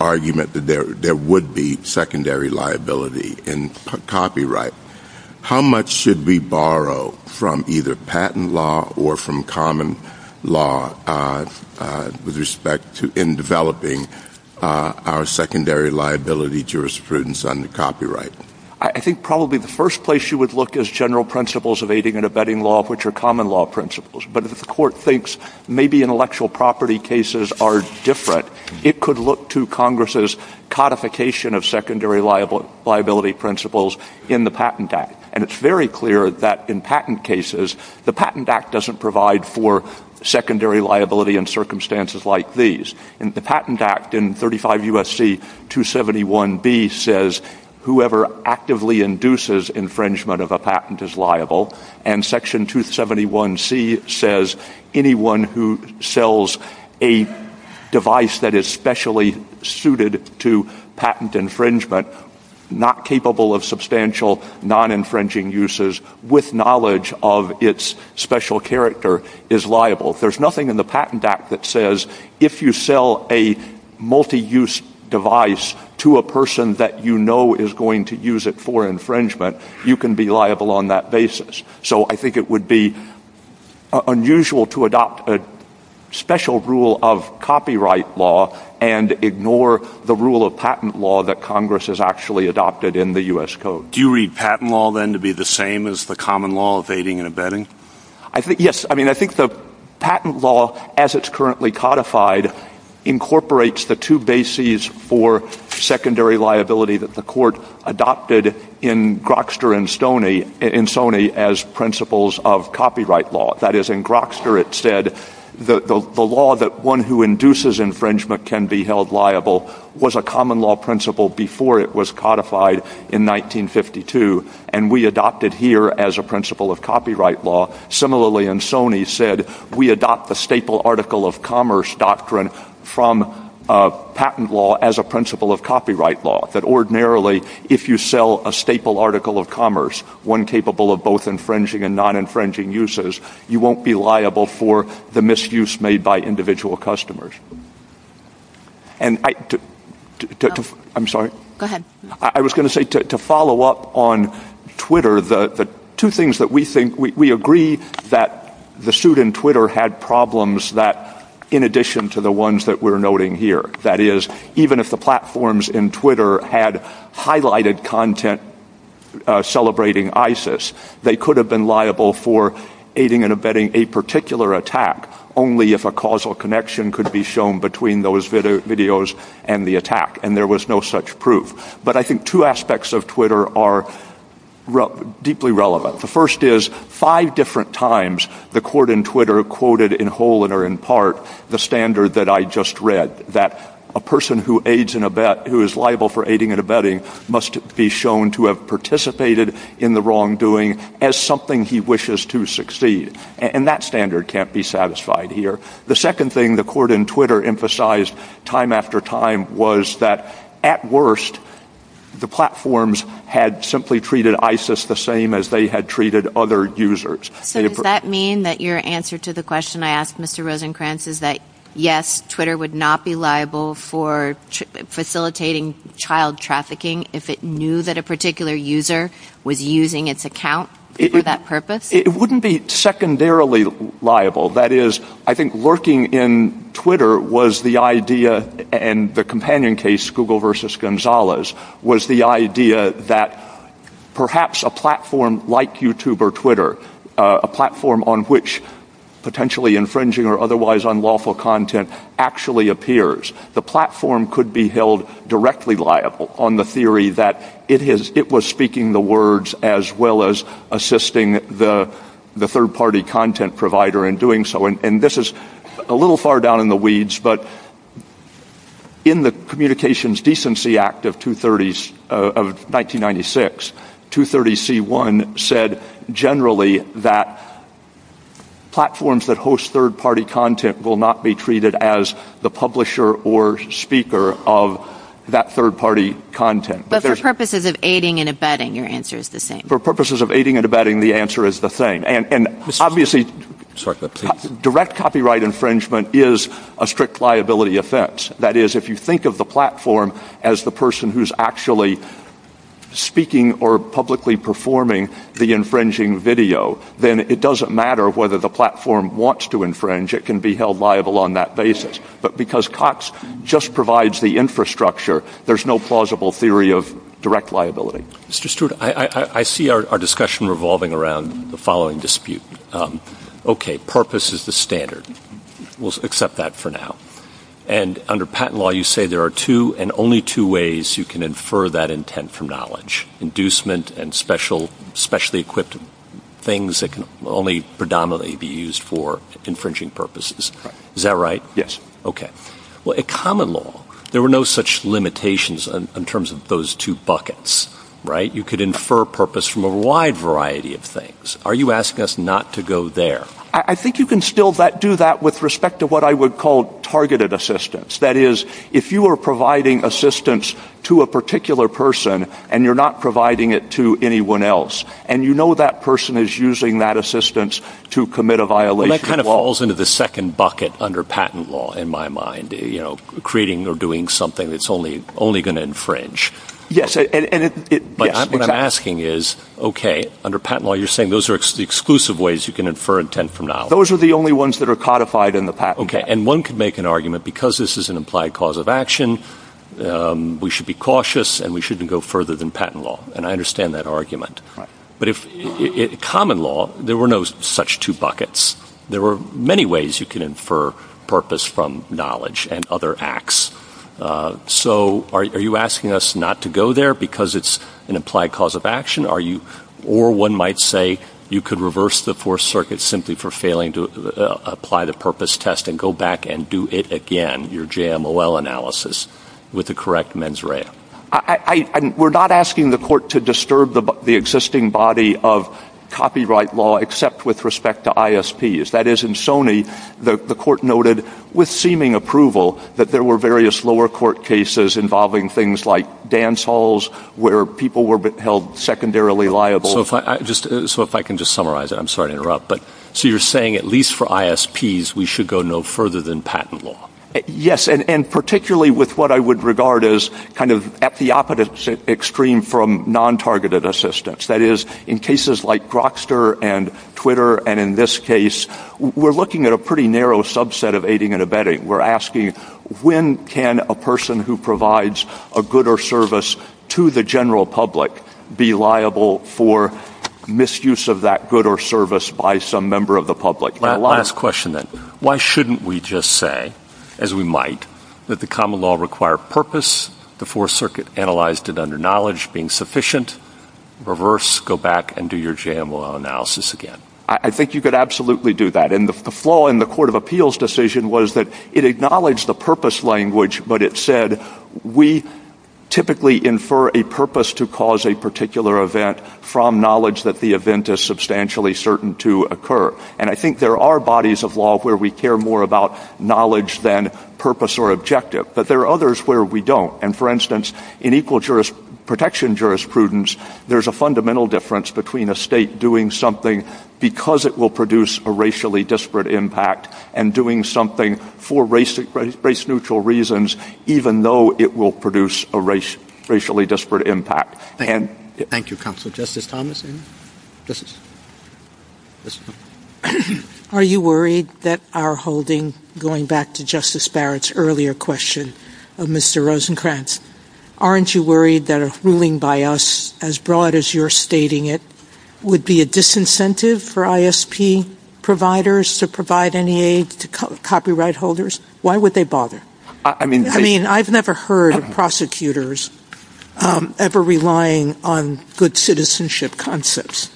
argument that there would be secondary liability in copyright. How much should we borrow from either patent law or from common law with respect to in developing our secondary liability jurisprudence under copyright? I think probably the first place you would look is general principles of aiding and abetting law, which are common law principles. But if the Court thinks maybe intellectual property cases are different, it could look to Congress' codification of secondary liability principles in the Patent Act. And it's very clear that in patent cases, the Patent Act doesn't provide for secondary liability in circumstances like these. The Patent Act in 35 U.S.C. 271b says whoever actively induces infringement of a patent is liable. And Section 271c says anyone who sells a device that is specially suited to patent infringement, not capable of substantial non-infringing uses with knowledge of its special character, is liable. There's nothing in the Patent Act that says if you sell a multi-use device to a person that you know is going to use it for infringement, you can be liable on that basis. So I think it would be unusual to adopt a special rule of copyright law and ignore the rule of patent law that Congress has actually adopted in the U.S. Code. Do you read patent law, then, to be the same as the common law of aiding and abetting? Yes. I mean, I think the patent law, as it's currently codified, incorporates the two bases for secondary liability that the Court adopted in Grokster and Stoney, in Stoney, as principles of copyright law. That is, in Grokster, it said the law that one who induces infringement can be held liable was a common law principle before it was codified in 1952, and we adopted here as a principle of copyright law. Similarly, in Stoney, it said we adopt the staple article of commerce doctrine from patent law as a principle of copyright law, that ordinarily, if you sell a staple article of commerce, one capable of both infringing and non-infringing uses, you won't be liable for the misuse made by individual customers. I was going to say, to follow up on Twitter, the two things that we think, we agree that the suit in Twitter had problems that, in addition to the ones that we're noting here, that is, even if the platforms in Twitter had highlighted content celebrating ISIS, they could have been liable for aiding and abetting a particular attack, only if a causal connection could be shown between those videos and the attack, and there was no such proof. But I think two aspects of Twitter are deeply relevant. The first is, five different times, the Court in Twitter quoted in whole or in part the standard that I just read, that a person who aids in a bet, who is liable for aiding and abetting, must be shown to have participated in the wrongdoing as something he wishes to succeed, and that standard can't be satisfied here. The second thing the Court in Twitter emphasized time after time was that, at worst, the platforms had simply treated ISIS the same as they had treated other users. So does that mean that your answer to the question I asked Mr. Rosenkranz is that, yes, Twitter would not be liable for facilitating child trafficking if it knew that a particular user was using its account for that purpose? It wouldn't be secondarily liable. That is, I think lurking in Twitter was the idea, and the companion case, Google versus Gonzalez, was the idea that perhaps a platform like YouTube or Twitter, a platform on which potentially infringing or otherwise unlawful content actually appears, the platform could be held directly liable on the theory that it was speaking the words as well as assisting the third-party content provider in doing so. This is a little far down in the weeds, but in the Communications Decency Act of 1996, 230C1 said generally that platforms that host third-party content will not be treated as the publisher or speaker of that third-party content. But for purposes of aiding and abetting, your answer is the same. For purposes of aiding and abetting, the answer is the same. Obviously, direct copyright infringement is a strict liability offense. That is, if you think of the platform as the person who's actually speaking or publicly performing the infringing video, then it doesn't matter whether the platform wants to infringe, it can be held liable on that basis. But because COTS just provides the infrastructure, there's no plausible theory of direct liability. Mr. Stewart, I see our discussion revolving around the following dispute. Okay, purpose is the standard. We'll accept that for now. And under patent law, you say there are two and only two ways you can infer that intent from knowledge, inducement and specially equipped things that can only predominantly be used for infringing purposes. Is that right? Yes. Okay. Well, in common law, there were no such limitations in terms of those two buckets, right? You could infer purpose from a wide variety of things. Are you asking us not to go there? I think you can still do that with respect to what I would call targeted assistance. That is, if you are providing assistance to a particular person, and you're not providing it to anyone else, and you know that person is using that assistance to commit a violation. That kind of falls into the second bucket under patent law, in my mind, you know, creating or doing something that's only going to infringe. But what I'm asking is, okay, under patent law, you're saying those are exclusive ways you can infer intent from knowledge. Those are the only ones that are codified in the patent. Okay. And one could make an argument because this is an implied cause of action, we should be cautious and we shouldn't go further than patent law. And I understand that argument. But in common law, there were no such two buckets. There were many ways you can infer purpose from knowledge and other acts. So are you asking us not to go there because it's an implied cause of action? Or one might say you could reverse the Fourth Circuit simply for failing to apply the purpose test and go back and do it again, your JMOL analysis, with the correct mens rea. I we're not asking the court to disturb the existing body of copyright law, except with respect to ISPs. That is in Sony, the court noted with seeming approval that there were various lower court cases involving things like dance halls, where people were held secondarily liable. So if I just so if I can just summarize, I'm sorry to interrupt. But so you're saying at least for ISPs, we should go no further than patent law? Yes, and particularly with what I would regard as kind of at the opposite extreme from non targeted assistance. That is, in cases like Grokster and Twitter. And in this case, we're looking at a pretty narrow subset of aiding and abetting. We're asking, when can a person who provides a good or service to the general public be liable for misuse of that good or service by some member of the public? My last question, then, why shouldn't we just say, as we might, that the common law require purpose before circuit analyzed it under knowledge being sufficient? Reverse, go back and do your JML analysis again. I think you could absolutely do that. And the flaw in the Court of Appeals decision was that it acknowledged the purpose language, but it said, we typically infer a purpose to cause a particular event from knowledge that the event is substantially certain to occur. And I think there are bodies of law where we care more about knowledge than purpose or objective. But there are others where we don't. And for instance, in equal protection jurisprudence, there's a fundamental difference between a state doing something because it will produce a racially disparate impact and doing something for race neutral reasons, even though it will produce a racially disparate impact. Thank you, counsel. Justice Thomas? Are you worried that our holding, going back to Justice Barrett's earlier question of Mr. Rosenkranz, aren't you worried that a ruling by us, as broad as you're stating it, would be a disincentive for ISP providers to provide any aid to copyright holders? Why would they bother? I mean, I've never heard of prosecutors ever relying on good citizenship concepts.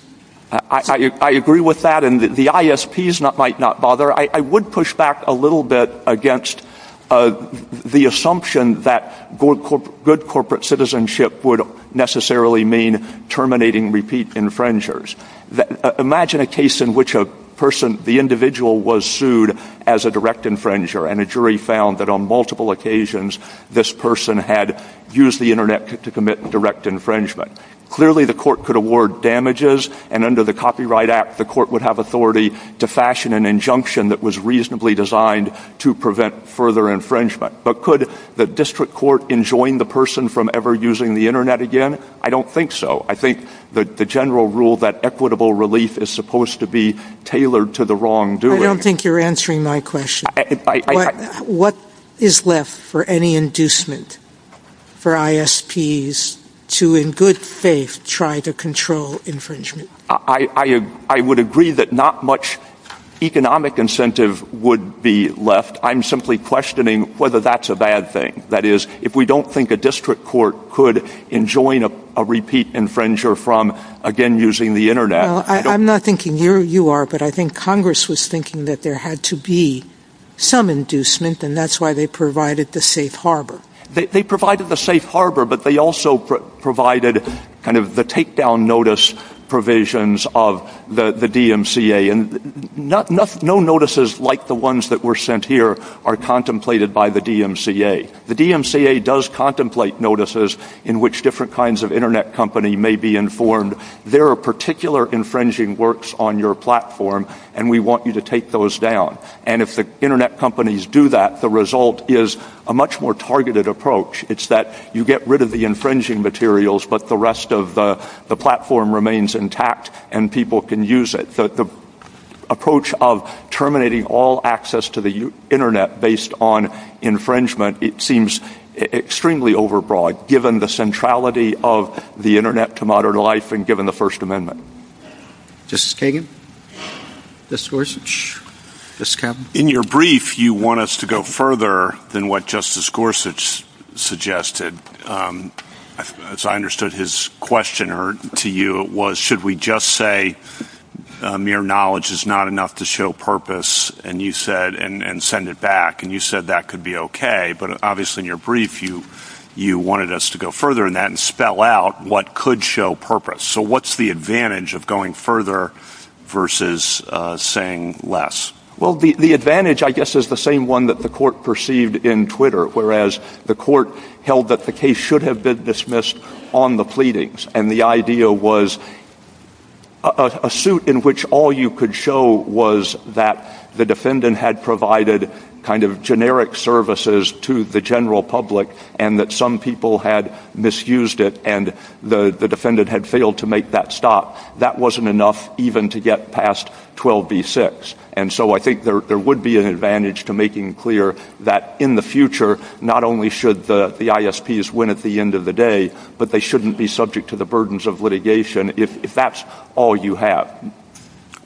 I agree with that. The ISPs might not bother. I would push back a little bit against the assumption that good corporate citizenship would necessarily mean terminating repeat infringers. Imagine a case in which a person, the individual was sued as a direct infringer, and a jury found that on multiple occasions, this person had used the internet to commit direct infringement. Clearly, the court could award damages. And under the copyright act, the court would have authority to fashion an injunction that was reasonably designed to prevent further infringement. But could the district court enjoin the person from ever using the internet again? I don't think so. I think the general rule that equitable relief is supposed to be tailored to the wrongdoing. I don't think you're answering my question. What is left for any inducement for ISPs to, in good faith, try to control infringement? I would agree that not much economic incentive would be left. I'm simply questioning whether that's a bad thing. That is, if we don't think a district court could enjoin a repeat infringer from, again, using the internet. I'm not thinking you are, but I think Congress was thinking that there had to be some inducement, and that's why they provided the safe harbor. They provided the safe harbor, but they also provided kind of the takedown notice provisions of the DMCA. No notices like the ones that were sent here are contemplated by the DMCA. The DMCA does contemplate notices in which different kinds of internet company may be informed. There are particular infringing works on your platform, and we want you to take those down. And if the internet companies do that, the result is a much more targeted approach. It's that you get rid of the infringing materials, but the rest of the platform remains intact, and people can use it. The approach of terminating all access to the internet based on infringement, it seems extremely overbroad, given the centrality of the internet to modern life, and given the First Amendment. Justice Kagan? Justice Gorsuch? Justice Kavanaugh? In your brief, you want us to go further than what Justice Gorsuch suggested. As I understood his question to you, it was, should we just say mere knowledge is not enough to show purpose, and you said, and send it back, and you said that could be okay. But obviously, in your brief, you wanted us to go further than that, and spell out what could show purpose. So what's the advantage of going further versus saying less? Well, the advantage, I guess, is the same one that the court perceived in Twitter, whereas the court held that the case should have been dismissed on the pleadings. And the idea was a suit in which all you could show was that the defendant had provided kind of generic services to the general public, and that some people had misused it, and the defendant had failed to make that stop. That wasn't enough even to get past 12b-6. And so I think there would be an advantage to making clear that in the future, not only should the ISPs win at the end of the day, but they shouldn't be subject to the burdens of litigation if that's all you have.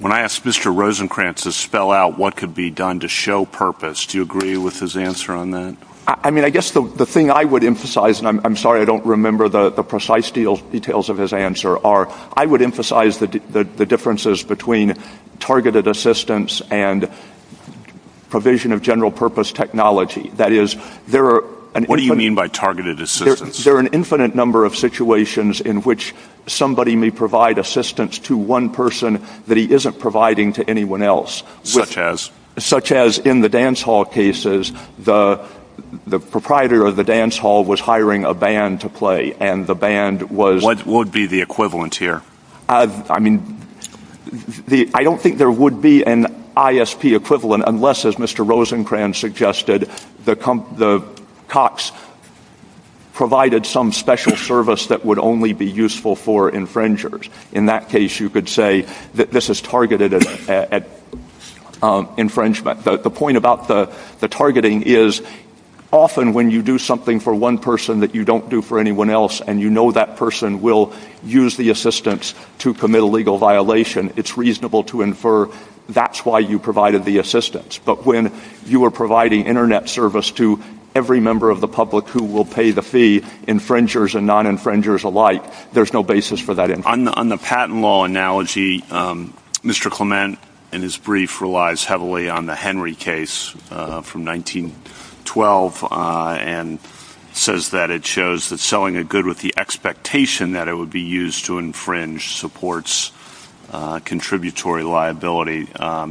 When I asked Mr. Rosenkranz to spell out what could be done to show purpose, do you agree with his answer on that? I mean, I guess the thing I would emphasize, and I'm sorry I don't remember the precise details of his answer, are I would emphasize the differences between targeted assistance and provision of general purpose technology. That is, there are an infinite number of situations in which somebody may provide assistance to one person that he isn't providing to anyone else. Such as? Such as in the dance hall cases, the proprietor of the dance hall was hiring a band to play, and the band was... What would be the equivalence here? I mean, I don't think there would be an ISP equivalent unless, as Mr. Rosenkranz suggested, the COCs provided some special service that would only be useful for infringers. In that case, you could say that this is targeted at infringement. The point about the targeting is, often when you do something for one person that you don't do for anyone else, and you know that person will use the assistance to commit a legal violation, it's reasonable to infer that's why you provided the assistance. But when you are providing internet service to every member of the public who will pay the fee, infringers and non-infringers alike, there's no basis for that infringement. On the patent law analogy, Mr. Clement, in his brief, relies heavily on the Henry case from 1912, and says that it shows that selling a good with the expectation that it would be used to infringe supports contributory liability.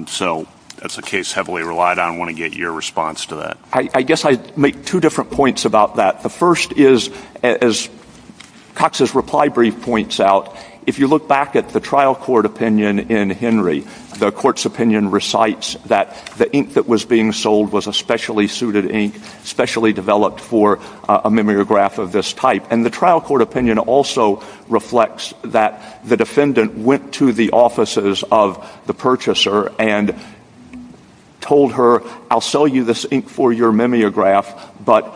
So that's a case heavily relied on. I want to get your response to that. I guess I'd make two different points about that. The first is, as Cox's reply brief points out, if you look back at the trial court opinion in Henry, the court's opinion recites that the ink that was being sold was a specially suited ink, specially developed for a mimeograph of this type. And the trial court opinion also reflects that the defendant went to the offices of the purchaser and told her, I'll sell you this ink for your mimeograph, but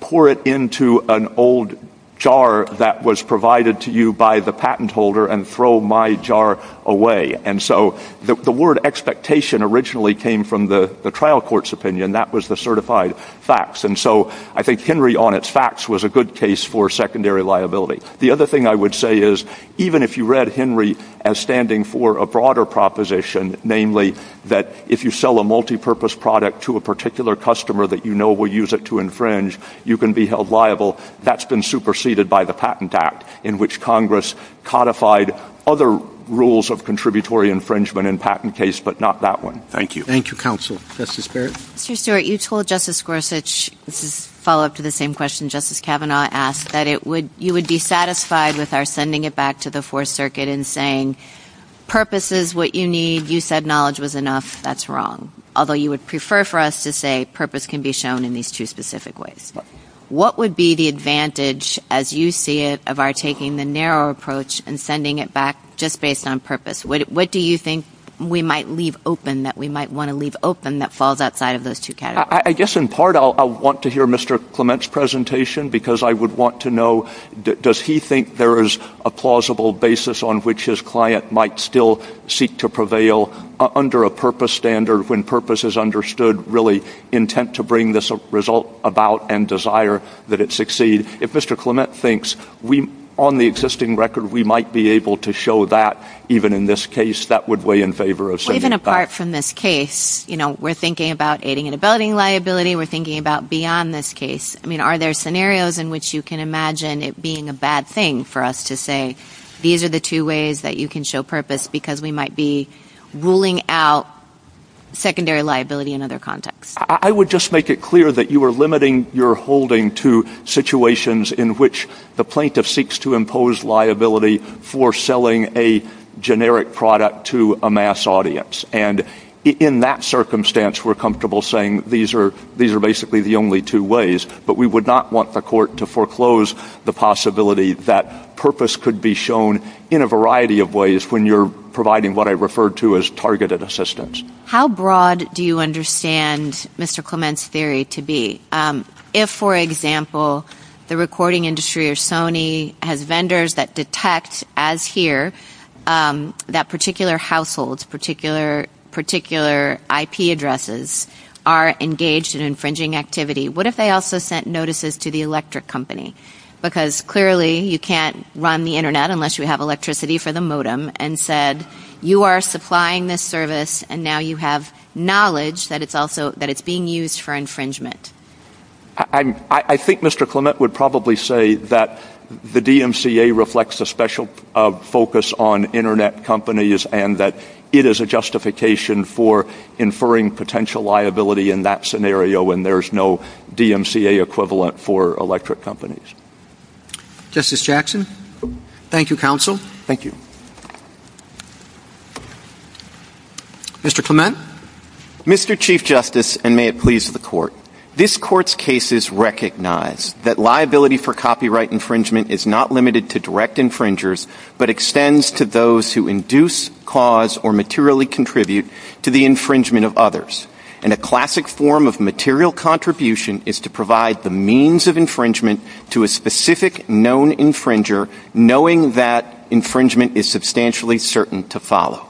pour it into an old jar that was provided to you by the patent holder and throw my jar away. And so the word expectation originally came from the trial court's opinion. That was the certified facts. And so I think Henry, on its facts, was a good case for secondary liability. The other thing I would say is, even if you read Henry as standing for a broader proposition, namely that if you sell a multipurpose product to a particular customer that you know will use it to infringe, you can be held liable, that's been superseded by the Patent Act, in which Congress codified other rules of contributory infringement in patent case, but not that one. Thank you. Thank you, counsel. Justice Barrett? Mr. Stewart, you told Justice Gorsuch, this is a follow-up to the same question Justice Kavanaugh asked, that you would be satisfied with our sending it back to the Fourth Circuit and saying, purpose is what you need, you said knowledge was enough. That's wrong. Although you would prefer for us to say purpose can be shown in these two specific ways. What would be the advantage, as you see it, of our taking the narrow approach and sending it back just based on purpose? What do you think we might leave open that we might want to leave open that falls outside of those two categories? I guess, in part, I'll want to hear Mr. Clement's presentation, because I would want to know, does he think there is a plausible basis on which his client might still seek to prevail under a purpose standard when purpose is understood, really intent to bring this result about and desire that it succeed? If Mr. Clement thinks we, on the existing record, we might be able to show that, even in this case, that would weigh in favor of sending it back. Even apart from this case, you know, we're thinking about aiding and abetting liability, we're thinking about beyond this case. I mean, are there scenarios in which you can imagine it being a bad thing for us to say, these are the two ways that you can show purpose, because we might be ruling out secondary liability in other contexts? I would just make it clear that you are limiting your holding to situations in which the plaintiff seeks to impose liability for selling a generic product to a mass audience. And in that circumstance, we're comfortable saying these are basically the only two ways, but we would not want the court to foreclose the possibility that purpose could be shown in a variety of ways when you're providing what I refer to as targeted assistance. How broad do you understand Mr. Clement's theory to be? If, for example, the recording industry or Sony has vendors that detect, as here, that particular households, particular IP addresses are engaged in infringing activity, what if they also sent notices to the electric company? Because clearly, you can't run the internet unless you have electricity for the modem, and said, you are supplying this service and now you have knowledge that it's being used for infringement. I think Mr. Clement would probably say that the DMCA reflects a special focus on internet companies and that it is a justification for inferring potential liability in that scenario when there's no DMCA equivalent for electric companies. Justice Jackson? Thank you, counsel. Thank you. Mr. Clement? Mr. Chief Justice, and may it please the court, this court's case is recognized that liability for copyright infringement is not limited to direct infringers, but extends to those who induce, cause, or materially contribute to the infringement of others. A classic form of material contribution is to provide the means of infringement to a specific known infringer, knowing that infringement is substantially certain to follow.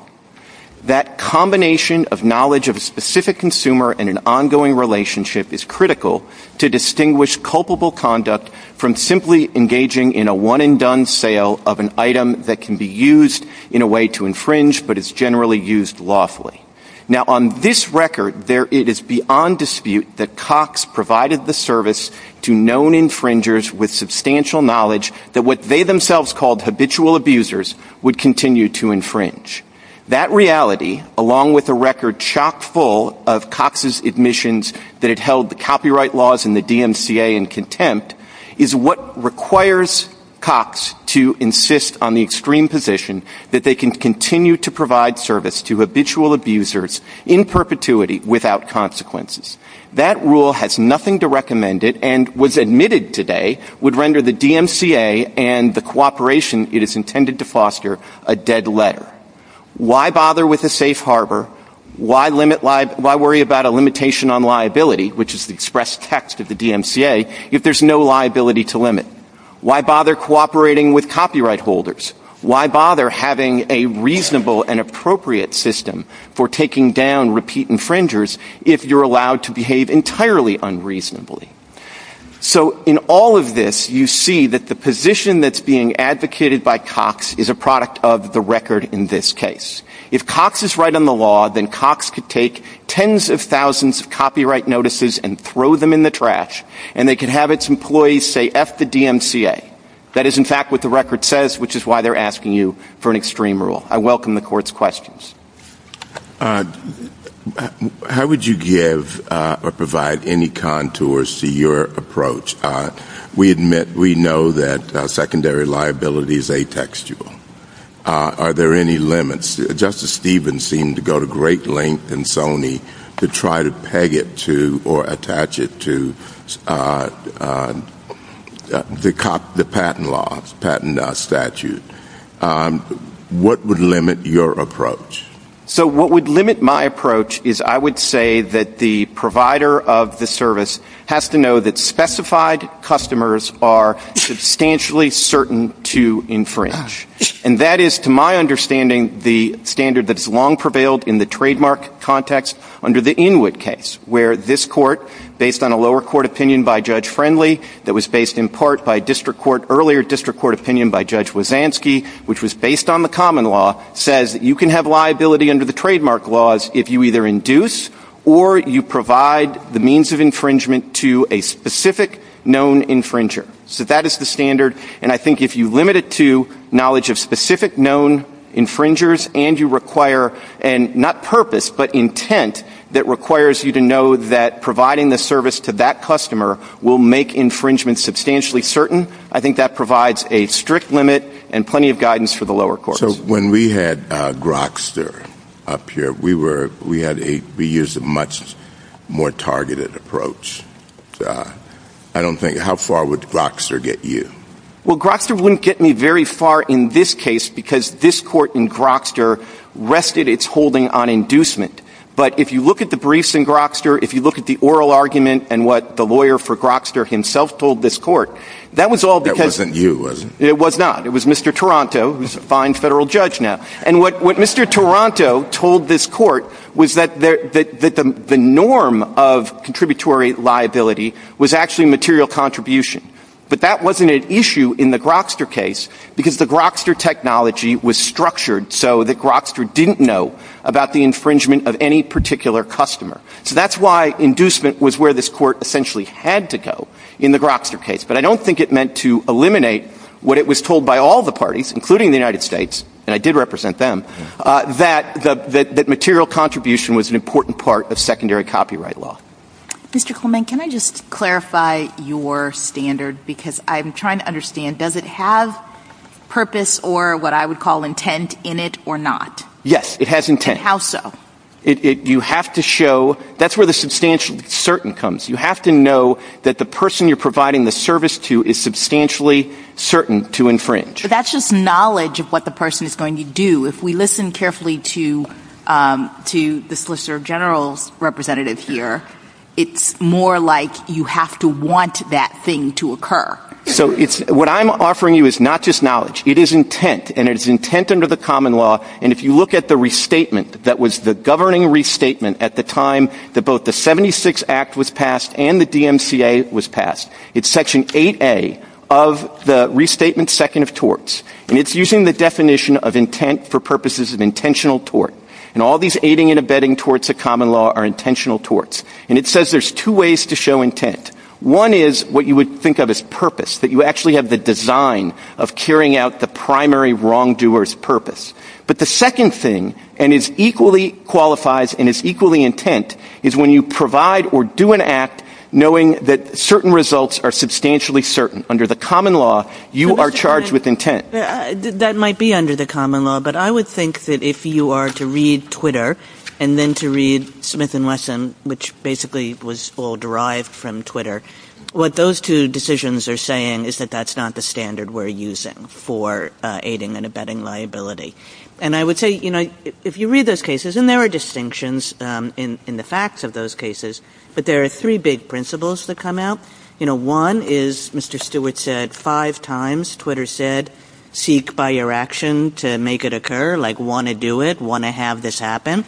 That combination of knowledge of a specific consumer and an ongoing relationship is critical to distinguish culpable conduct from simply engaging in a one-and-done sale of an item that can be used in a way to infringe, but is generally used lawfully. Now, on this record, it is beyond dispute that Cox provided the service to known infringers with substantial knowledge that what they themselves called habitual abusers would continue to infringe. That reality, along with a record chock-full of Cox's admissions that had held the copyright laws and the DMCA in contempt, is what requires Cox to insist on the extreme position that they can continue to provide service to habitual abusers in perpetuity without consequences. That rule has nothing to recommend it and, was admitted today, would render the DMCA and the cooperation it is intended to foster a dead letter. Why bother with a safe harbor? Why worry about a limitation on liability, which is the expressed text of the DMCA, if there's no liability to limit? Why bother cooperating with copyright holders? Why bother having a reasonable and appropriate system for taking down repeat infringers if you're allowed to behave entirely unreasonably? So in all of this, you see that the position that's being advocated by Cox is a product of the record in this case. If Cox is right on the law, then Cox could take tens of thousands of copyright notices and throw them in the trash, and they could have its employees say, F the DMCA. That is, in fact, what the record says, which is why they're asking you for an extreme rule. I welcome the court's questions. How would you give or provide any contours to your approach? We admit, we know that secondary liability is atextual. Are there any limits? Justice Stevens seemed to go to great lengths in Sony to try to peg it to or attach it to the patent law, the patent statute. What would limit your approach? So what would limit my approach is I would say that the provider of the service has to know that specified customers are substantially certain to infringe, and that is, to my understanding, the standard that has long prevailed in the trademark context under the Inwood case, where this court, based on a lower court opinion by Judge Friendly, that was based in part by district court, earlier district court opinion by Judge Wazanski, which was based on the common law, says that you can have liability under the trademark laws if you either induce or you provide the means of infringement to a specific known infringer. So that is the standard. And I think if you limit it to knowledge of specific known infringers and you require, and not purpose, but intent, that requires you to know that providing the service to that customer will make infringement substantially certain, I think that provides a strict limit and plenty of guidance for the lower courts. So when we had Grokster up here, we were, we had a, we used a much more targeted approach. I don't think, how far would Grokster get you? Well, Grokster wouldn't get me very far in this case because this court in Grokster rested its holding on inducement. But if you look at the briefs in Grokster, if you look at the oral argument and what the lawyer for Grokster himself told this court, that was all because... That wasn't you, was it? It was not. It was Mr. Toronto, who's a fine federal judge now. And what Mr. Toronto told this court was that the norm of contributory liability was actually material contribution. But that wasn't an issue in the Grokster case because the Grokster technology was structured so that Grokster didn't know about the infringement of any particular customer. So that's why inducement was where this court essentially had to go in the Grokster case. But I don't think it meant to eliminate what it was told by all the parties, including the United States, and I did represent them, that material contribution was an important part of secondary copyright law. Mr. Coleman, can I just clarify your standard? Because I'm trying to understand, does it have purpose or what I would call intent in it or not? Yes, it has intent. And how so? You have to show... That's where the substantial certain comes. You have to know that the person you're providing the service to is substantially certain to But that's just knowledge of what the person is going to do. If we listen carefully to the Solicitor General's representative here, it's more like you have to want that thing to occur. So what I'm offering you is not just knowledge. It is intent. And it is intent under the common law. And if you look at the restatement that was the governing restatement at the time that both the 76 Act was passed and the DMCA was passed, it's Section 8A of the Restatement Second of Torts. And it's using the definition of intent for purposes of intentional tort. And all these aiding and abetting torts of common law are intentional torts. And it says there's two ways to show intent. One is what you would think of as purpose, that you actually have the design of carrying out the primary wrongdoer's purpose. But the second thing, and it equally qualifies and is equally intent, is when you provide or do an act knowing that certain results are substantially certain. Under the common law, you are charged with intent. That might be under the common law. But I would think that if you are to read Twitter and then to read Smith & Wesson, which basically was all derived from Twitter, what those two decisions are saying is that that's not the standard we're using for aiding and abetting liability. And I would say, you know, if you read those cases, and there are distinctions in the facts of those cases, but there are three big principles that come out. You know, one is, Mr. Stewart said five times, Twitter said, seek by your action to make it occur, like want to do it, want to have this happen.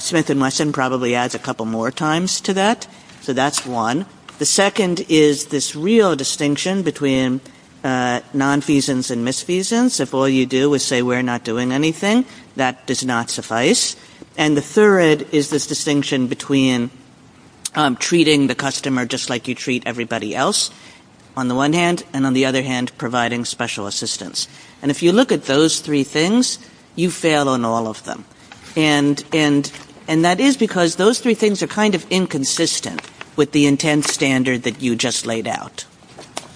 Smith & Wesson probably adds a couple more times to that. So that's one. The second is this real distinction between nonfeasance and misfeasance. If all you do is say we're not doing anything, that does not suffice. And the third is this distinction between treating the customer just like you treat everybody else, on the one hand, and on the other hand, providing special assistance. And if you look at those three things, you fail on all of them. And that is because those three things are kind of inconsistent with the intent standard that you just laid out.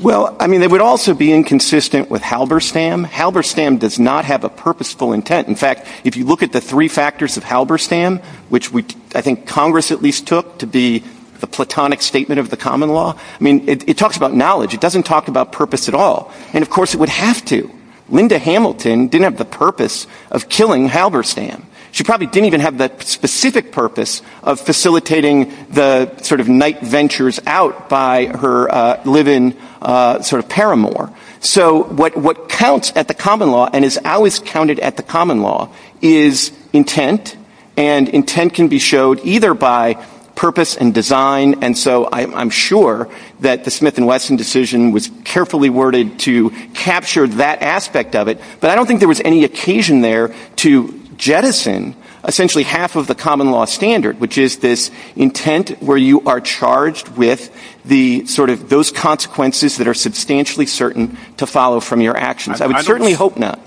Well, I mean, it would also be inconsistent with Halberstam. Halberstam does not have a purposeful intent. In fact, if you look at the three factors of Halberstam, which I think Congress at least took to be the platonic statement of the common law, I mean, it talks about knowledge. It doesn't talk about purpose at all. And of course, it would have to. Linda Hamilton didn't have the purpose of killing Halberstam. She probably didn't even have that specific purpose of facilitating the sort of night ventures out by her live-in sort of paramour. So what counts at the common law and is always counted at the common law is intent. And intent can be showed either by purpose and design. And so I'm sure that the Smith and Wesson decision was carefully worded to capture that aspect of it. But I don't think there was any occasion there to jettison essentially half of the common law standard, which is this intent where you are charged with the sort of those consequences that are substantially certain to follow from your actions. I would certainly hope not.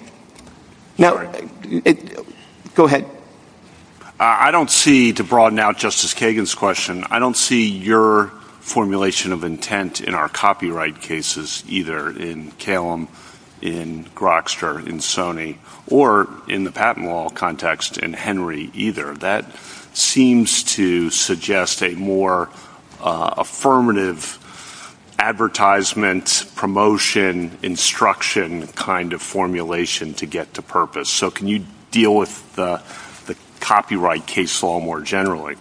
Now, go ahead. I don't see to broaden out Justice Kagan's question. I don't see your formulation of intent in our copyright cases, either in Kalem, in Grokster, in Sony or in the patent law context in Henry either. That seems to suggest a more affirmative advertisement, promotion, instruction kind of formulation to get to purpose. So can you deal with the copyright case law more generally?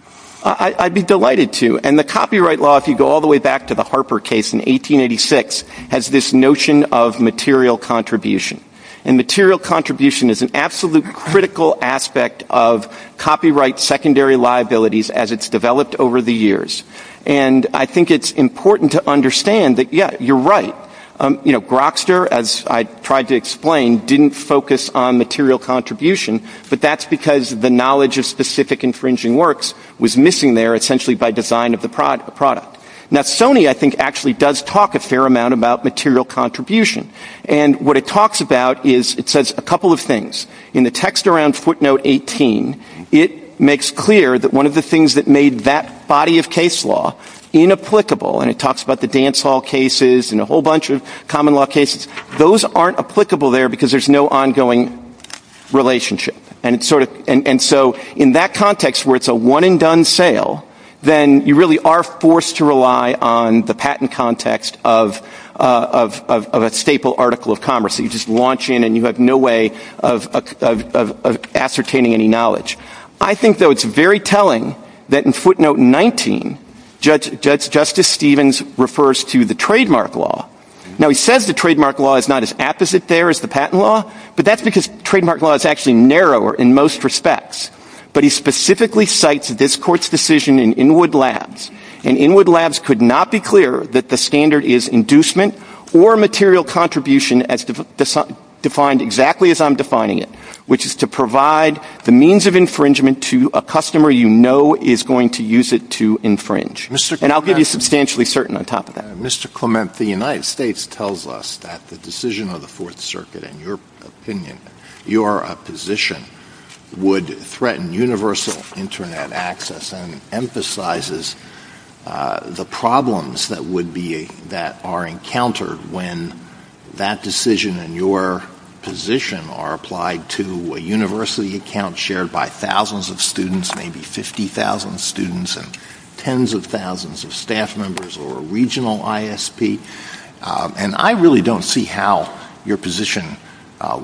I'd be delighted to. And the copyright law, if you go all the way back to the Harper case in 1886, has this notion of material contribution. And material contribution is an absolute critical aspect of copyright secondary liabilities as it's developed over the years. And I think it's important to understand that, yeah, you're right. You know, Grokster, as I tried to explain, didn't focus on material contribution. But that's because the knowledge of specific infringing works was missing there essentially by design of the product. Now, Sony, I think, actually does talk a fair amount about material contribution. And what it talks about is it says a couple of things. In the text around footnote 18, it makes clear that one of the things that made that body of case law inapplicable, and it talks about the dance hall cases and a whole bunch of common law cases, those aren't applicable there because there's no ongoing relationship. And so in that context where it's a one and done sale, then you really are forced to rely on the patent context of a staple article of commerce. So you just launch in and you have no way of ascertaining any knowledge. I think, though, it's very telling that in footnote 19, Judge Justice Stevens refers to the trademark law. Now, he says the trademark law is not as apt as it there is the patent law. But that's because trademark law is actually narrower in most respects. But he specifically cites this court's decision in Inwood Labs. And Inwood Labs could not be clear that the standard is inducement or material contribution as defined exactly as I'm defining it, which is to provide the means of infringement to a customer you know is going to use it to infringe. And I'll give you substantially certain on top of that. Mr. Clement, the United States tells us that the decision of the Fourth Circuit, in your opinion, your position would threaten universal Internet access and emphasizes the problems that would be that are encountered when that decision and your position are applied to a university account shared by thousands of students, maybe 50,000 students and tens of thousands of staff members or a regional ISP. And I really don't see how your position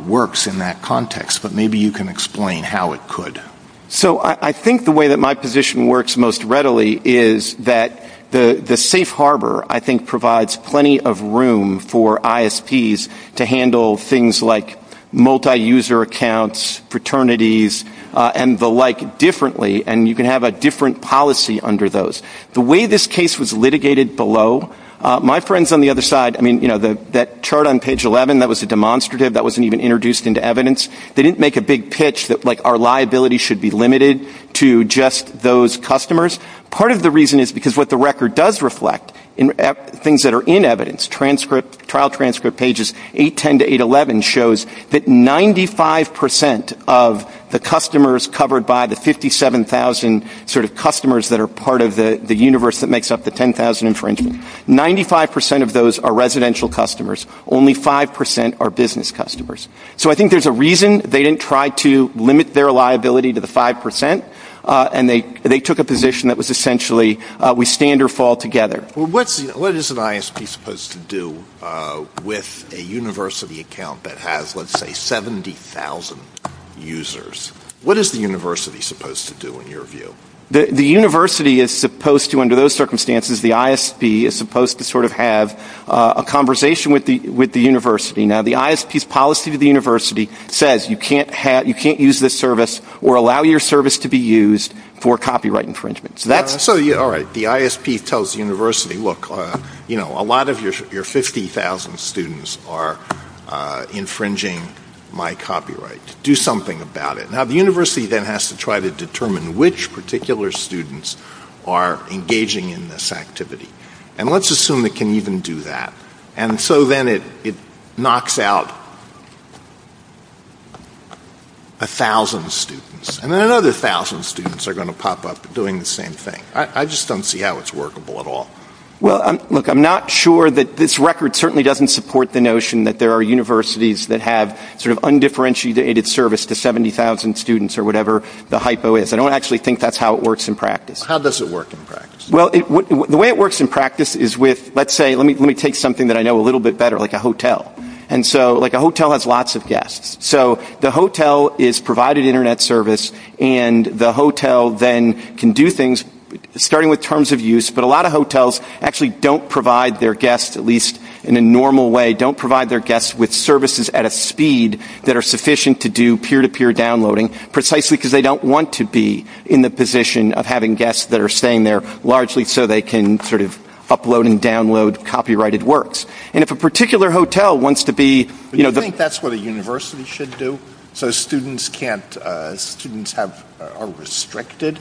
works in that context. But maybe you can explain how it could. So, I think the way that my position works most readily is that the safe harbor, I think provides plenty of room for ISPs to handle things like multi-user accounts, fraternities and the like differently. And you can have a different policy under those. The way this case was litigated below, my friends on the other side, I mean, you know, that chart on page 11, that was a demonstrative. That wasn't even introduced into evidence. They didn't make a big pitch that like our liability should be limited to just those customers. Part of the reason is because what the record does reflect in things that are in evidence, transcript, trial transcript pages 810 to 811 shows that 95% of the customers covered by the 57,000 sort of customers that are part of the universe that makes up the 10,000 infringement, 95% of those are residential customers. Only 5% are business customers. So, I think there's a reason they didn't try to limit their liability to the 5%. And they took a position that was essentially we stand or fall together. What is an ISP supposed to do with a university account that has, let's say, 70,000 users? What is the university supposed to do in your view? The university is supposed to, under those circumstances, the ISP is supposed to sort of have a conversation with the university. Now, the ISP's policy to the university says you can't use this service or allow your service to be used for copyright infringements. So, that's. So, yeah, all right, the ISP tells the university, look, you know, a lot of your 50,000 students are infringing my copyright. Do something about it. Now, the university then has to try to determine which particular students are engaging in this activity. And let's assume it can even do that. And so, then it knocks out 1,000 students. And then another 1,000 students are going to pop up doing the same thing. I just don't see how it's workable at all. Well, look, I'm not sure that this record certainly doesn't support the notion that there are universities that have sort of undifferentiated service to 70,000 students or whatever the hypo is. I don't actually think that's how it works in practice. How does it work in practice? Well, the way it works in practice is with, let's say, let me take something that I know a little bit better, like a hotel. And so, like a hotel has lots of guests. So, the hotel is provided internet service and the hotel then can do things starting with terms of use, but a lot of hotels actually don't provide their guests, at least in a normal way, don't provide their guests with services at a speed that are sufficient to do peer-to-peer downloading, precisely because they don't want to be in the position of having guests that are staying there largely so they can sort of upload and download copyrighted works. And if a particular hotel wants to be, you know, but. Do you think that's what a university should do? So, students can't, students have, are restricted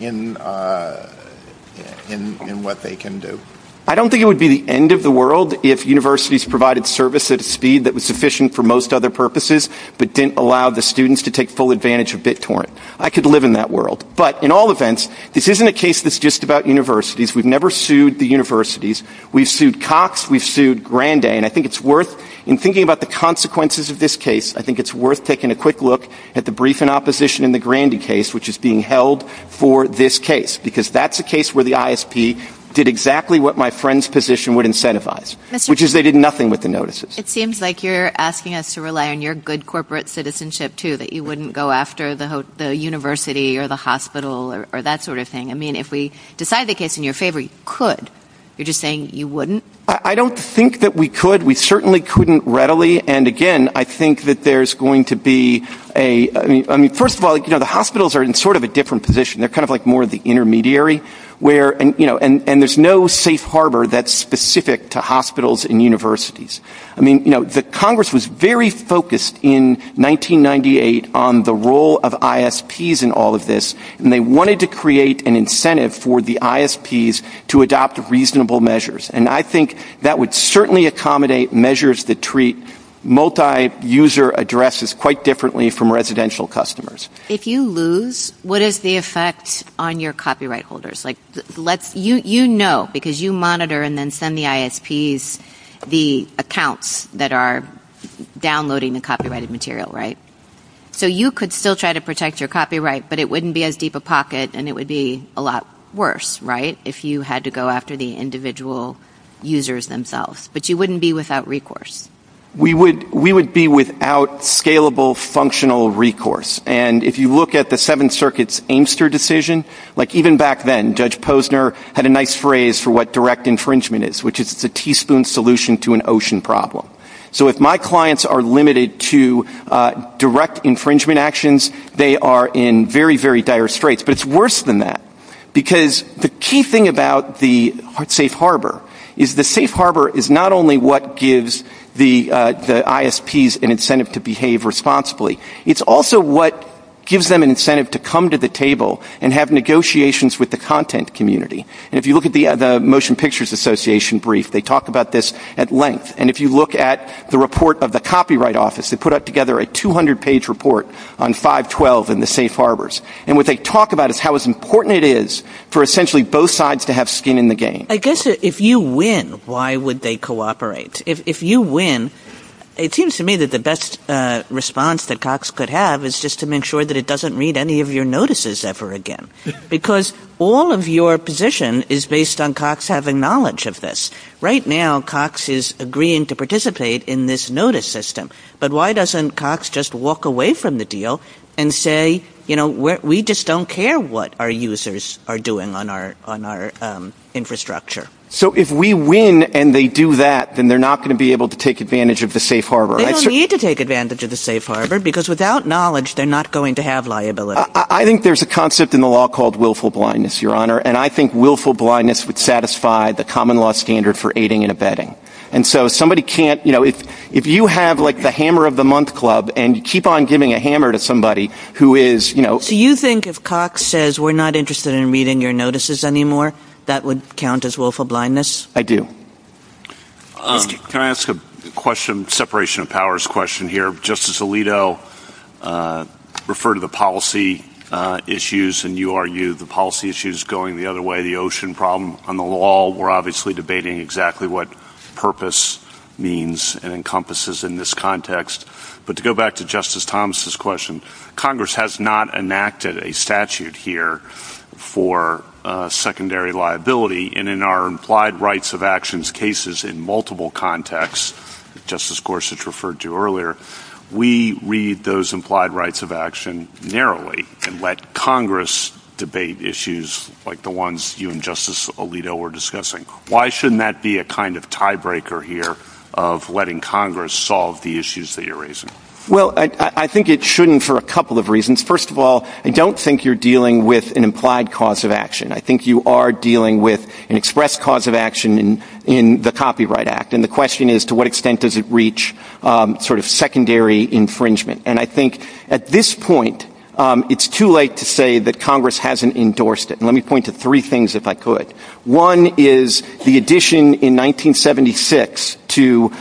in what they can do? I don't think it would be the end of the world if universities provided service at a speed that was sufficient for most other purposes, but didn't allow the students to take full advantage of BitTorrent. I could live in that world. But, in all events, this isn't a case that's just about universities. We've never sued the universities. We've sued Cox. We've sued Grandayy. And I think it's worth, in thinking about the consequences of this case, I think it's worth taking a quick look at the brief in opposition in the Grandayy case, which is being held for this case, because that's a case where the ISP did exactly what my friend's position would incentivize. Which is they did nothing with the notices. It seems like you're asking us to rely on your good corporate citizenship, too, that you wouldn't go after the university or the hospital or that sort of thing. I mean, if we decide the case in your favor, you could. You're just saying you wouldn't? I don't think that we could. We certainly couldn't readily. And, again, I think that there's going to be a, I mean, first of all, you know, the hospitals are in sort of a different position. They're kind of like more of the intermediary where, you know, and there's no safe harbor that's specific to hospitals and universities. I mean, you know, the Congress was very focused in 1998 on the role of ISPs in all of this. And they wanted to create an incentive for the ISPs to adopt reasonable measures. And I think that would certainly accommodate measures that treat multi-user addresses quite differently from residential customers. If you lose, what is the effect on your copyright holders? Like, let's, you know, because you monitor and then send the ISPs the, the accounts that are downloading the copyrighted material, right? So, you could still try to protect your copyright, but it wouldn't be as deep a pocket and it would be a lot worse, right, if you had to go after the individual users themselves. But you wouldn't be without recourse. We would, we would be without scalable, functional recourse. And if you look at the Seventh Circuit's Amester decision, like even back then, Judge Posner had a nice phrase for what direct infringement is, which is the teaspoon solution to an ocean problem. So, if my clients are limited to direct infringement actions, they are in very, very dire straits, but it's worse than that. Because the key thing about the Safe Harbor is the Safe Harbor is not only what gives the, the ISPs an incentive to behave responsibly, it's also what gives them an incentive to come to the table and have negotiations with the content community. And if you look at the Motion Pictures Association brief, they talk about this at length. And if you look at the report of the Copyright Office, they put up together a 200-page report on 512 and the Safe Harbors. And what they talk about is how important it is for essentially both sides to have skin in the game. I guess if you win, why would they cooperate? If you win, it seems to me that the best response that Cox could have is just to make sure that it doesn't read any of your notices ever again. Because all of your position is based on Cox having knowledge of this. Right now, Cox is agreeing to participate in this notice system. But why doesn't Cox just walk away from the deal and say, you know, we just don't care what our users are doing on our, on our infrastructure? So, if we win and they do that, then they're not going to be able to take advantage of the Safe Harbor. They don't need to take advantage of the Safe Harbor because without knowledge they're not going to have liability. I think there's a concept in the law called willful blindness, Your Honor. And I think willful blindness would satisfy the common law standard for aiding and abetting. And so, somebody can't, you know, if you have like the hammer of the month club and you keep on giving a hammer to somebody who is, you know. So, you think if Cox says we're not interested in reading your notices anymore, that would count as willful blindness? I do. Can I ask a question, separation of powers question here? Justice Alito referred to the policy issues in URU, the policy issues going the other way, the ocean problem on the law. We're obviously debating exactly what purpose means and encompasses in this context. But to go back to Justice Thomas' question, Congress has not enacted a statute here for secondary liability and in our implied rights of actions cases in multiple contexts, Justice Gorsuch referred to earlier, we read those implied rights of action narrowly and let Congress debate issues like the ones you and Justice Alito were discussing. Why shouldn't that be a kind of tiebreaker here of letting Congress solve the issues that you're raising? Well, I think it shouldn't for a couple of reasons. First of all, I don't think you're dealing with an implied cause of action. I think you are dealing with an express cause of action in the Copyright Act. And the question is, to what extent does it reach sort of secondary infringement? And I think at this point, it's too late to say that Congress hasn't endorsed it. And let me point to three things if I could. One is the addition in 1976 to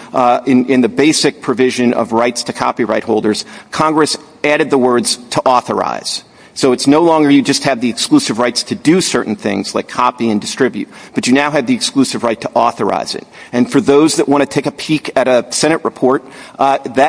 in the basic provision of rights to copyright holders, Congress added the words to authorize. So it's no longer you just have the exclusive rights to do certain things like copy and distribute, but you now have the exclusive right to authorize it. And for those that want to take a peek at a Senate report,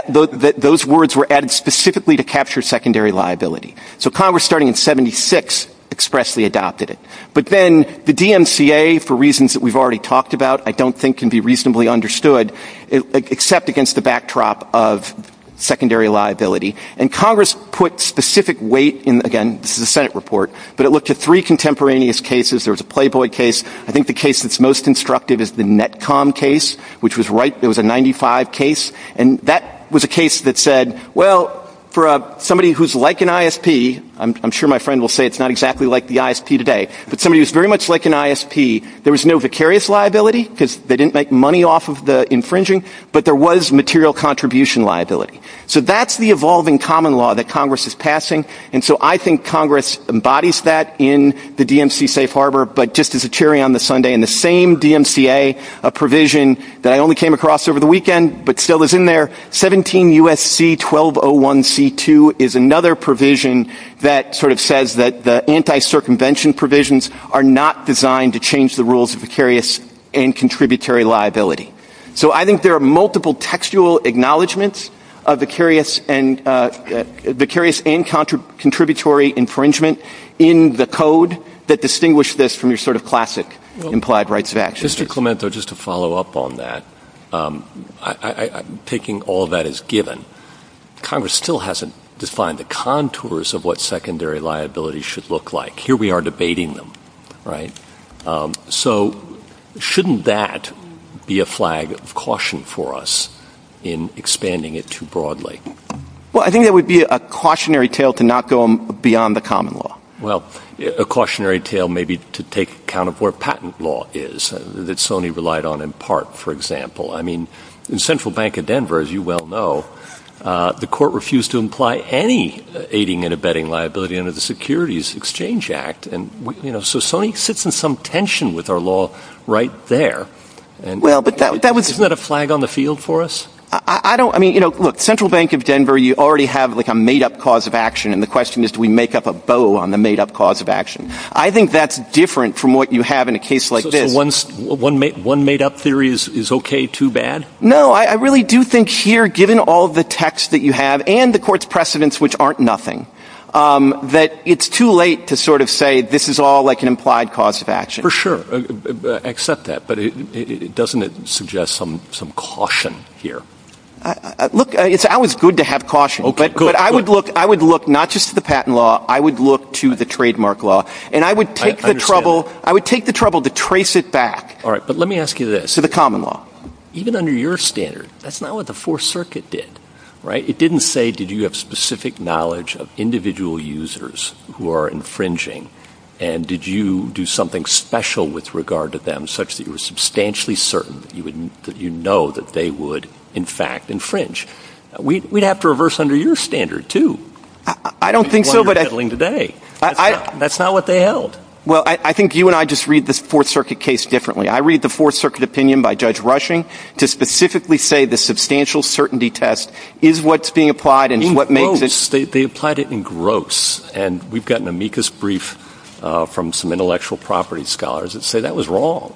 those words were added specifically to capture secondary liability. So Congress starting in 76 expressly adopted it. But then the DMCA, for reasons that we've already talked about, I don't think can be reasonably understood, except against the backdrop of secondary liability. And Congress put specific weight in, again, this is a Senate report, but it looked at three contemporaneous cases. There was a Playboy case. I think the case that's most constructive is the Netcom case, which was right, there was a 95 case, and that was a case that said, well, for somebody who's like an ISP, I'm sure my friend will say it's not exactly like the ISP today, but somebody who's very much like an ISP, there was no vicarious liability because they didn't make money off of the infringing, but there was material contribution liability. So that's the evolving common law that Congress is passing. And so I think Congress embodies that in the DMCA safe harbor, but just as a cherry on the Sunday, in the same DMCA provision that I only came across over the weekend, but still is in there, 17 U.S.C. 1201C2 is another provision that sort of says that the anti-circumvention provisions are not designed to change the rules of vicarious and contributory liability. So I think there are multiple textual acknowledgments of vicarious and contributory infringement in the code that distinguish this from your sort of classic implied rights of action. Mr. Clemento, just to follow up on that, I'm taking all that as given. Congress still hasn't defined the contours of what secondary liability should look like. Here we are debating them, right? So shouldn't that be a flag of caution for us in expanding it too broadly? Well, I think that would be a cautionary tale to not go beyond the common law. Well, a cautionary tale maybe to take account of where patent law is that Sony relied on in part, for example. I mean, in Central Bank of Denver, as you well know, the court refused to imply any aiding and abetting liability under the Securities Exchange Act. And, you know, so Sony sits in some tension with our law right there. Isn't that a flag on the field for us? I don't, I mean, you know, Central Bank of Denver, you already have like a made-up cause of action, and the question is, do we make up a bow on the made-up cause of action? I think that's different from what you have in a case like this. So one made-up theory is okay too bad? No, I really do think here, given all the text that you have and the court's precedents, which aren't nothing, that it's too late to sort of say this is all like an implied cause of action. For sure, I accept that, but doesn't it suggest some caution here? Look, it's always good to have caution, but I would look not just to the patent law, I would look to the trademark law, and I would take the trouble to trace it back. All right, but let me ask you this. So the common law, even under your standard, that's not what the Fourth Circuit did, right? It didn't say, did you have specific knowledge of individual users who are infringing, and did you do something special with regard to them such that you were substantially certain that you know that they would, in fact, infringe? We'd have to reverse under your standard too. I don't think so, but- That's what you're handling today. That's not what they held. Well, I think you and I just read the Fourth Circuit case differently. I read the Fourth Circuit opinion by Judge Rushing to specifically say the substantial certainty test is what's being applied and what makes- They applied it in gross, and we've got an amicus brief from some intellectual property scholars that say that was wrong.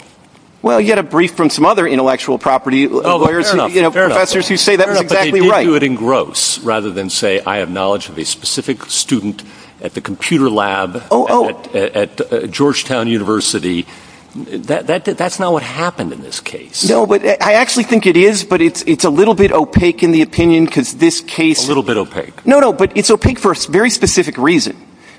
Well, you had a brief from some other intellectual property lawyers who say that was exactly right. Fair enough, but they did do it in gross rather than say, I have knowledge of a specific student at the computer lab at Georgetown University. That's not what happened in this case. No, but I actually think it is, but it's a little bit opaque in the opinion because this case- A little bit opaque. No, no, but it's opaque for a very specific reason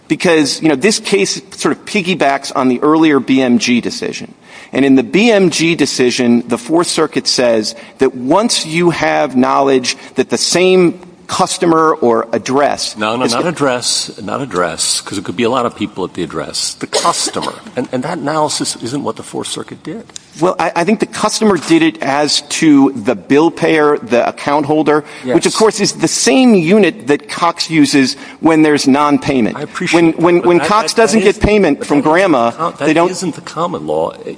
because, you know, this case sort of piggybacks on the earlier BMG decision. And in the BMG decision, the Fourth Circuit says that once you have knowledge that the same customer or address- No, no, not address, not address, because it could be a lot of people at the address. The customer, and that analysis isn't what the Fourth Circuit did. Well, I think the customer did it as to the bill payer, the account holder, which of course is the same unit that Cox uses when there's nonpayment. I appreciate- When Cox doesn't get payment from grandma, they don't-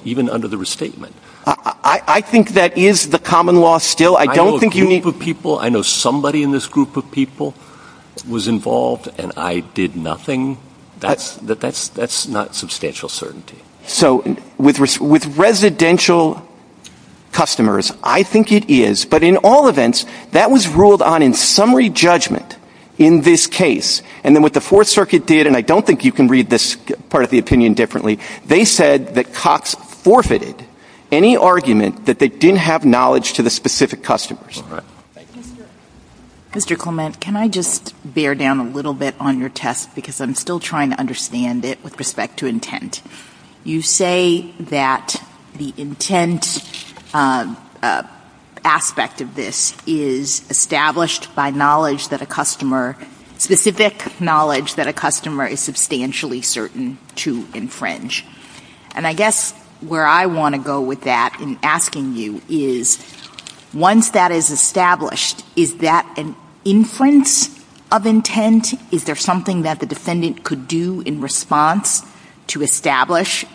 Even under the restatement. I think that is the common law still. I don't think you need- I know somebody in this group of people was involved and I did nothing. That's not substantial certainty. So with residential customers, I think it is, but in all events, that was ruled on in summary judgment in this case. And then what the Fourth Circuit did, and I don't think you can read this part of the opinion differently, they said that Cox forfeited any argument that they didn't have knowledge to the specific customers. Mr. Coleman, can I just bear down a little bit on your test, because I'm still trying to understand it with respect to intent. You say that the intent aspect of this is established by knowledge that a customer- specific knowledge that a customer is substantially certain to infringe. And I guess where I want to go with that in asking you is, once that is established, is that an inference of intent? Is there something that the defendant could do in response to establish,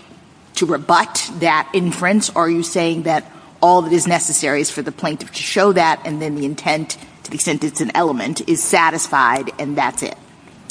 to rebut that inference, or are you saying that all that is necessary is for the plaintiff to show that and then the intent, to the extent it's an element, is satisfied and that's it?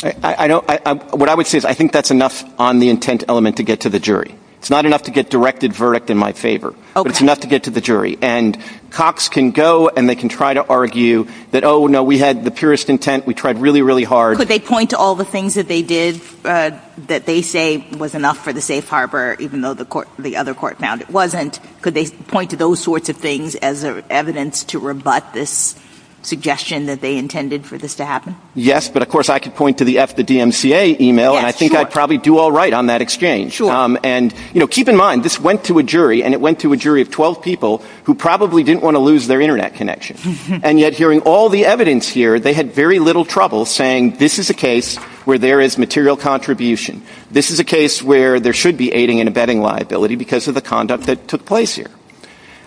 What I would say is I think that's enough on the intent element to get to the jury. It's not enough to get directed verdict in my favor, but it's enough to get to the jury. And Cox can go and they can try to argue that, oh, no, we had the purest intent. We tried really, really hard. Could they point to all the things that they did that they say was enough for the safe harbor, even though the other court found it wasn't? Could they point to those sorts of things as evidence to rebut this suggestion that they intended for this to happen? Yes, but of course I could point to the DMCA email and I think I'd probably do all right on that exchange. Sure. And, you know, keep in mind, this went to a jury and it went to a jury of 12 people who probably didn't want to lose their internet connection. And yet, hearing all the evidence here, they had very little trouble saying this is a case where there is material contribution. This is a case where there should be aiding and abetting liability because of the conduct that took place here.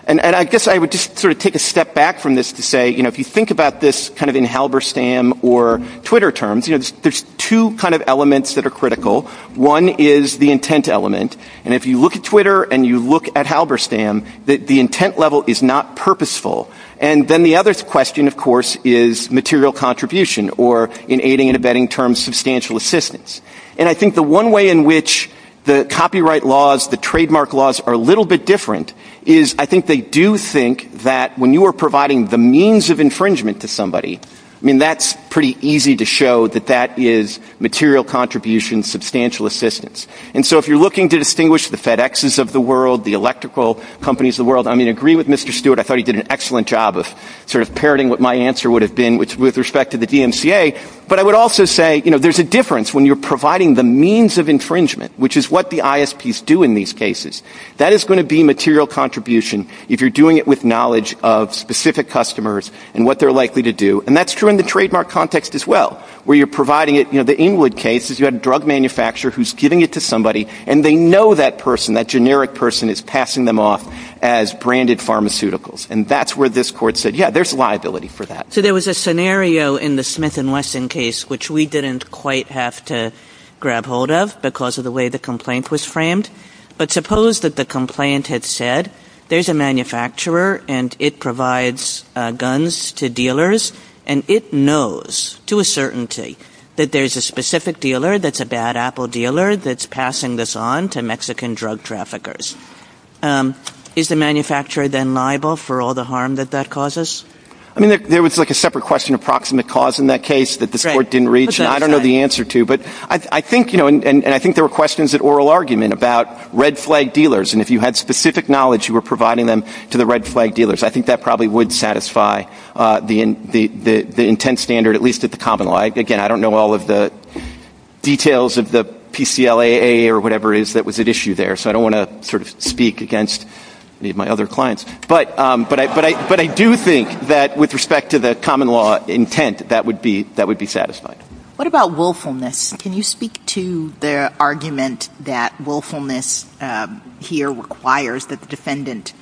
And I guess I would just sort of take a step back from this to say, you know, if you think about this kind of in Halberstam or Twitter terms, you know, there's two kind of elements that are critical. One is the intent element. And if you look at Twitter and you look at Halberstam, the intent level is not purposeful. And then the other question, of course, is material contribution or in aiding and abetting terms, substantial assistance. And I think the one way in which the copyright laws, the trademark laws are a little bit different is I think they do think that when you are providing the means of infringement to somebody, I mean, that's pretty easy to show that that is material contribution, substantial assistance. And so if you're looking to distinguish the FedExes of the world, the electrical companies of the world, I mean, I agree with Mr. Stewart. I thought he did an excellent job of sort of parroting what my answer would have been with respect to the DMCA, but I would also say, you know, there's a difference when you're providing the means of infringement, which is what the ISPs do in these cases. That is going to be material contribution if you're doing it with knowledge of specific customers and what they're likely to do. And that's true in the trademark context as well, where you're providing it, you know, the Inwood case is you have a drug manufacturer who's giving it to somebody and they know that person, that generic person is passing them off as branded pharmaceuticals. And that's where this court said, yeah, there's liability for that. So there was a scenario in the Smith and Wesson case which we didn't quite have to grab hold of because of the way the complaint was framed. But suppose that the complaint had said there's a manufacturer and it provides guns to dealers and it knows to a certainty that there's a specific dealer that's a bad Apple dealer that's passing this on to Mexican drug traffickers. Is the manufacturer then liable for all the harm that that causes? I mean, there was like a separate question of proximate cause in that case that this court didn't reach. I don't know the answer to, but I think, you know, and I think there were questions at oral argument about red flag dealers. And if you had specific knowledge, you were providing them to the red flag dealers. I think that probably would satisfy the intent standard at least at the common law. Again, I don't know all of the details of the PCLAA or whatever it is that was at issue there. So I don't want to sort of speak against any of my other clients. But I do think that with respect to the common law intent, that would be satisfied. What about willfulness? Can you speak to the argument that willfulness here requires that the defendant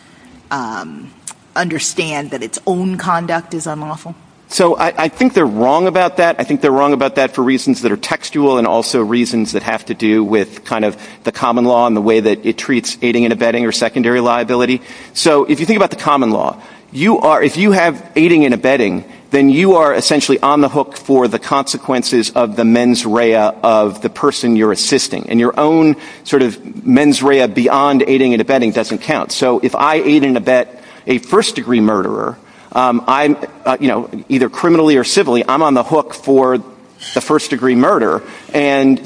understand that its own conduct is unlawful? So I think they're wrong about that. I think they're wrong about that for reasons that are textual and also reasons that have to do with kind of the common law and the way that it treats aiding and abetting or secondary liability. So if you think about the common law, you are, if you have aiding and abetting, then you are essentially on the hook for the consequences of the mens rea of the person you're assisting. And your own sort of mens rea beyond aiding and abetting doesn't count. So if I aid and abet a first degree murderer, I'm, you know, either criminally or civilly, I'm on the hook for the first degree murderer. And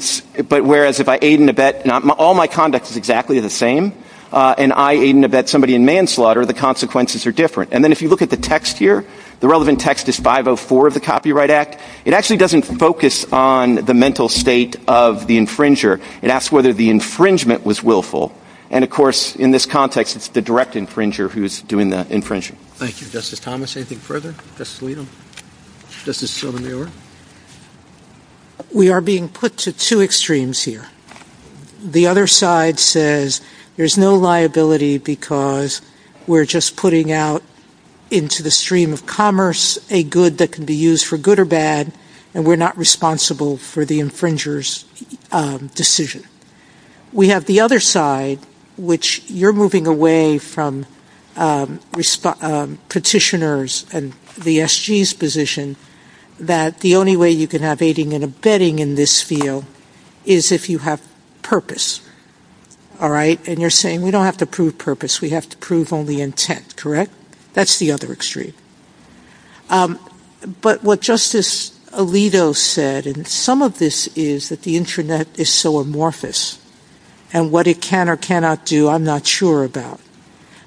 but whereas if I aid and abet, all my conduct is exactly the same. And I aid and abet somebody in manslaughter, the consequences are different. And then if you look at the text here, the relevant text is 504 of the Copyright Act. It actually doesn't focus on the mental state of the infringer. It asks whether the infringement was willful. And of course, in this context, it's the direct infringer who's doing the infringement. Thank you. Justice Thomas, anything further? Justice Alito? Justice Sotomayor? We are being put to two extremes here. The other side says, there's no liability because we're just putting out into the stream of commerce a good that can be used for good or bad. And we're not responsible for the infringer's decision. We have the other side, which you're moving away from petitioners and the SG's position that the only way you can have aiding and abetting in this field is if you have purpose. All right? And you're saying, we don't have to prove purpose. We have to prove only intent, correct? That's the other extreme. But what Justice Alito said, and some of this is that the internet is so amorphous. And what it can or cannot do, I'm not sure about.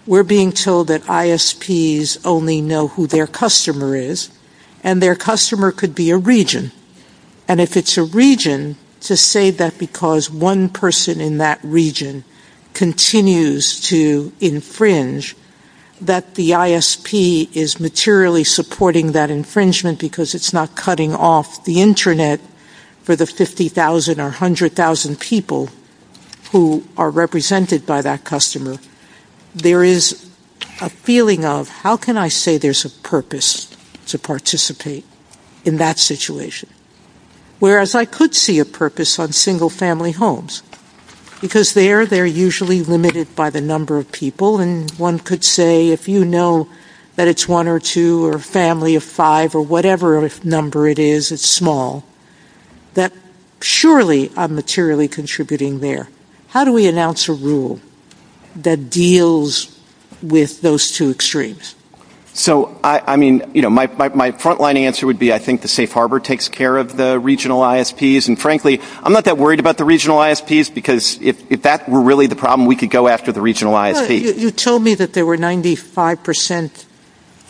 We're being told that ISPs only know who their customer is. And their customer could be a region. And if it's a region, to say that because one person in that region continues to infringe, that the ISP is materially supporting that infringement because it's not cutting off the internet for the 50,000 or 100,000 people who are represented by that customer. There is a feeling of, how can I say there's a purpose to participate in that situation? Whereas I could see a purpose on single family homes. Because there, they're usually limited by the number of people. And one could say, if you know that it's one or two or a family of five or whatever number it is, it's small. That surely I'm materially contributing there. How do we announce a rule that deals with those two extremes? So, I mean, you know, my front line answer would be I think the safe harbor takes care of the regional ISPs and frankly, I'm not that worried about the regional ISPs because if that were really the problem, we could go after the regional ISPs. You told me that there were 95%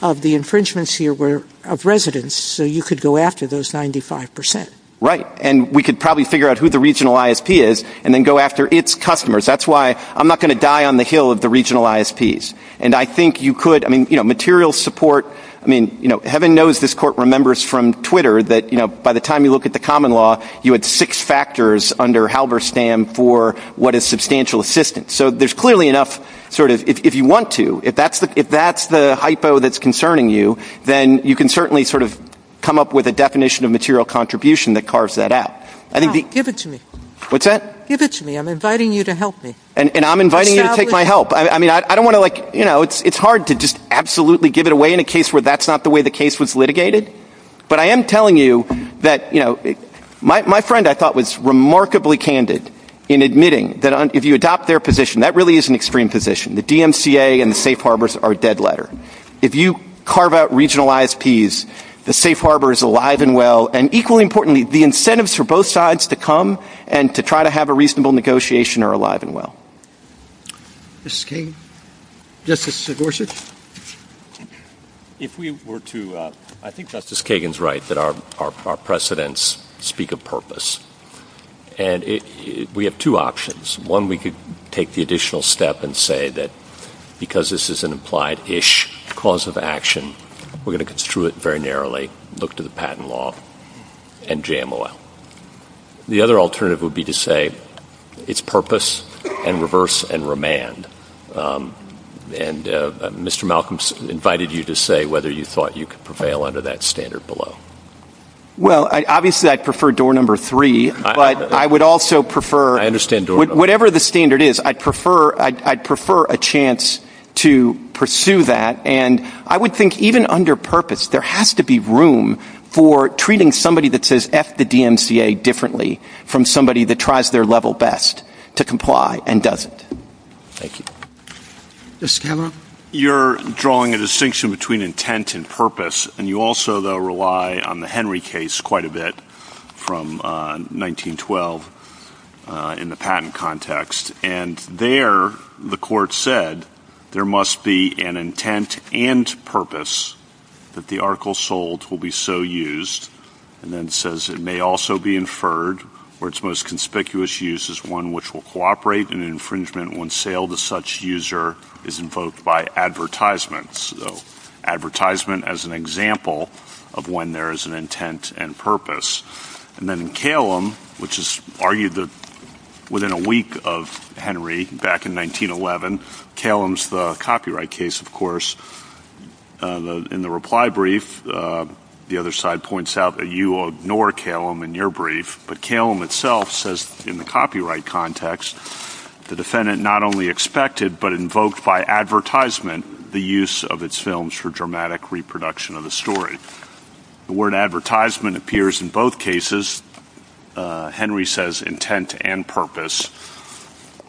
of the infringements here were of residents. So you could go after those 95%. Right. And we could probably figure out who the regional ISP is and then go after its customers. That's why I'm not going to die on the hill at the regional ISPs. And I think you could, I mean, you know, material support, I mean, you know, heaven knows this court remembers from Twitter that, you know, by the time you look at the common law, you had six factors under Halberstam for what is substantial assistance. So there's clearly enough sort of, if you want to, if that's the hypo that's concerning you, then you can certainly sort of come up with a definition of material contribution that carves that out. I think the... Give it to me. What's that? Give it to me. I'm inviting you to help me. And I'm inviting you to take my help. I mean, I don't want to like, you know, it's hard to just absolutely give it away in a case where that's not the way the case was litigated. But I am telling you that, you know, my friend I thought was remarkably candid in admitting that if you adopt their position, that really is an extreme position. The DMCA and the safe harbors are a dead letter. If you carve out regional ISPs, the safe harbor is alive and well. And equally importantly, the incentives for both sides to come and to try to have a reasonable negotiation are alive and well. Justice Kagan? Justice Gorsuch? If we were to, I think Justice Kagan's right that our precedents speak of purpose. And we have two options. One, we could take the additional step and say that because this is an implied-ish cause of action, we're going to construe it very narrowly, look to the patent law. And jam a lot. The other alternative would be to say it's purpose and reverse and remand. And Mr. Malcolms invited you to say whether you thought you could prevail under that standard below. Well, obviously I prefer door number three, but I would also prefer. I understand door number three. Whatever the standard is, I'd prefer a chance to pursue that. And I would think even under purpose, there has to be room for treating somebody that says F the DMCA differently from somebody that tries their level best to comply and doesn't. Thank you. Justice Taylor? You're drawing a distinction between intent and purpose. And you also, though, rely on the Henry case quite a bit from 1912 in the patent context. And there, the court said, there must be an intent and purpose that the article sold will be so used. And then it says it may also be inferred, or its most conspicuous use is one which will cooperate in infringement when sale to such user is invoked by advertisements. So advertisement as an example of when there is an intent and purpose. And then Calum, which is argued that within a week of Henry, back in 1911, Calum's the copyright case, of course. In the reply brief, the other side points out that you will ignore Calum in your brief. But Calum itself says in the copyright context, the defendant not only expected but invoked by advertisement the use of its films for dramatic reproduction of the story. The word advertisement appears in both cases. Henry says intent and purpose.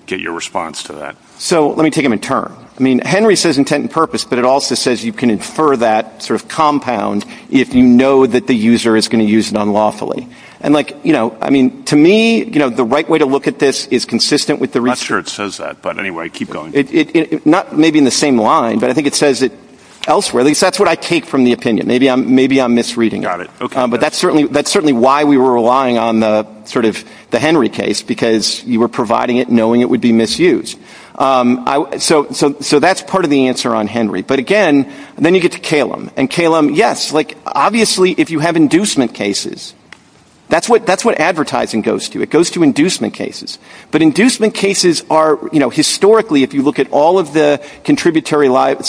Get your response to that. So let me take him in turn. I mean, Henry says intent and purpose, but it also says you can infer that sort of compound if you know that the user is going to use it unlawfully. And like, you know, I mean, to me, you know, the right way to look at this is consistent with the research. I'm not sure it says that, but anyway, keep going. It, it, it, not maybe in the same line, but I think it says it elsewhere. At least that's what I take from the opinion. Maybe I'm, maybe I'm misreading it. But that's certainly, that's certainly why we were relying on the sort of the Henry case because you were providing it knowing it would be misused. So, so, so that's part of the answer on Henry. But again, then you get to Calum. And Calum, yes, like obviously if you have inducement cases, that's what, that's what advertising goes to. It goes to inducement cases. But inducement cases are, you know, historically if you look at all of the contributory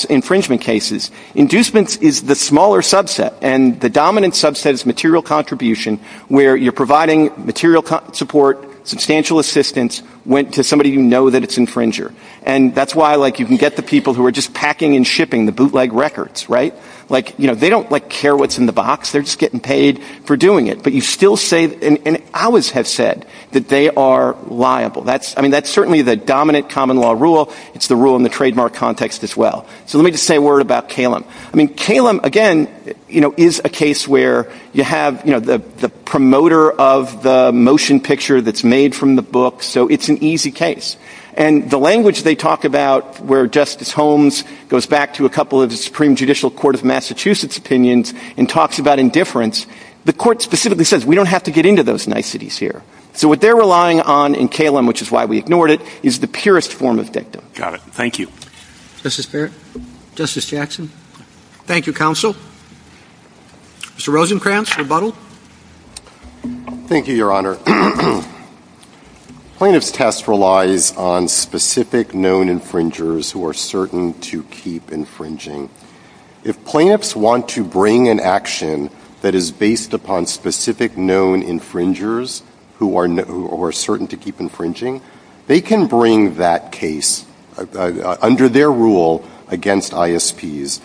infringement cases, inducement is the smaller subset. And the dominant subset is material contribution where you're providing material support, substantial assistance, went to somebody you know that it's infringer. And that's why, like, you can get the people who are just packing and shipping the bootleg records, right? Like, you know, they don't, like, care what's in the box. They're just getting paid for doing it. But you still say, and I always have said that they are liable. That's, I mean, that's certainly the dominant common law rule. It's the rule in the trademark context as well. So let me just say a word about Calum. I mean, Calum, again, you know, is a case where you have, you know, the promoter of the motion picture that's made from the book. So it's an easy case. And the language they talk about where Justice Holmes goes back to a couple of the Supreme Judicial Court of Massachusetts opinions and talks about indifference, the court specifically says we don't have to get into those niceties here. So what they're relying on in Calum, which is why we ignored it, is the purest form of victim. Got it. Thank you. Justice Barrett. Justice Jackson. Thank you, Counsel. Mr. Rosenkranz, rebuttal. Thank you, Your Honor. Plaintiff's test relies on specific known infringers who are certain to keep infringing. If plaintiffs want to bring an action that is based upon specific known infringers who are certain to keep infringing, they can bring that case under their rule against ISPs.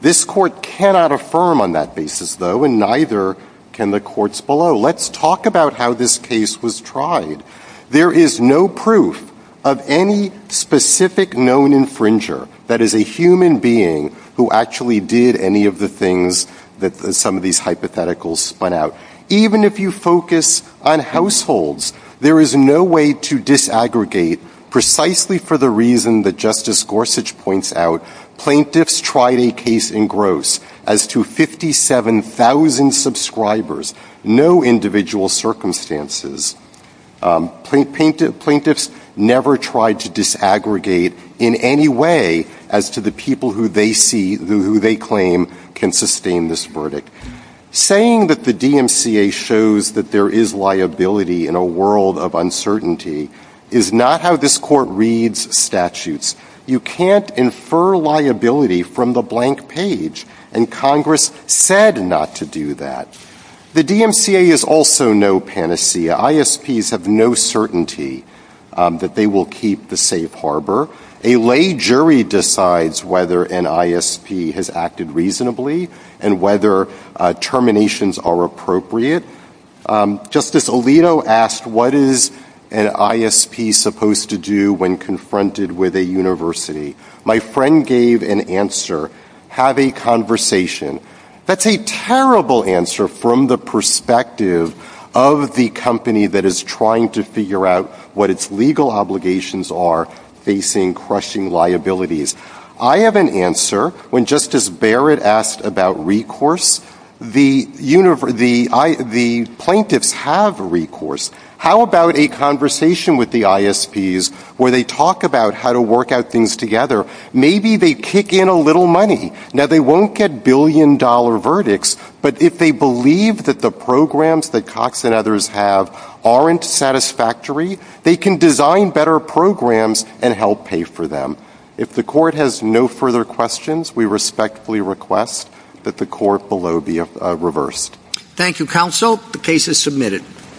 This court cannot affirm on that basis, though, and neither can the courts below. Let's talk about how this case was tried. There is no proof of any specific known infringer that is a human being who actually did any of the things that some of these hypotheticals point out. Even if you focus on households, there is no way to disaggregate precisely for the reason that Justice Gorsuch points out, plaintiffs tried a case in gross as to 57,000 subscribers, no individual circumstances. Plaintiffs never tried to disaggregate in any way as to the people who they see, who they claim can sustain this verdict. Saying that the DMCA shows that there is liability in a world of uncertainty is not how this court reads statutes. You can't infer liability from the blank page, and Congress said not to do that. The DMCA is also no panacea. ISPs have no certainty that they will keep the safe harbor. A lay jury decides whether an ISP has acted reasonably and whether terminations are appropriate. Justice Alito asked what is an ISP supposed to do when confronted with a university? My friend gave an answer, have a conversation. That's a terrible answer from the perspective of the company that is trying to figure out what its legal obligations are facing crushing liabilities. I have an answer. When Justice Barrett asked about recourse, the plaintiffs have recourse. How about a conversation with the ISPs where they talk about how to work out things together? Maybe they kick in a little money. Now, they won't get billion-dollar verdicts, but if they believe that the programs that Cox and others have aren't satisfactory, they can design better programs and help pay for them. If the court has no further questions, we respectfully request that the court below be reversed. Thank you, counsel. The case is submitted.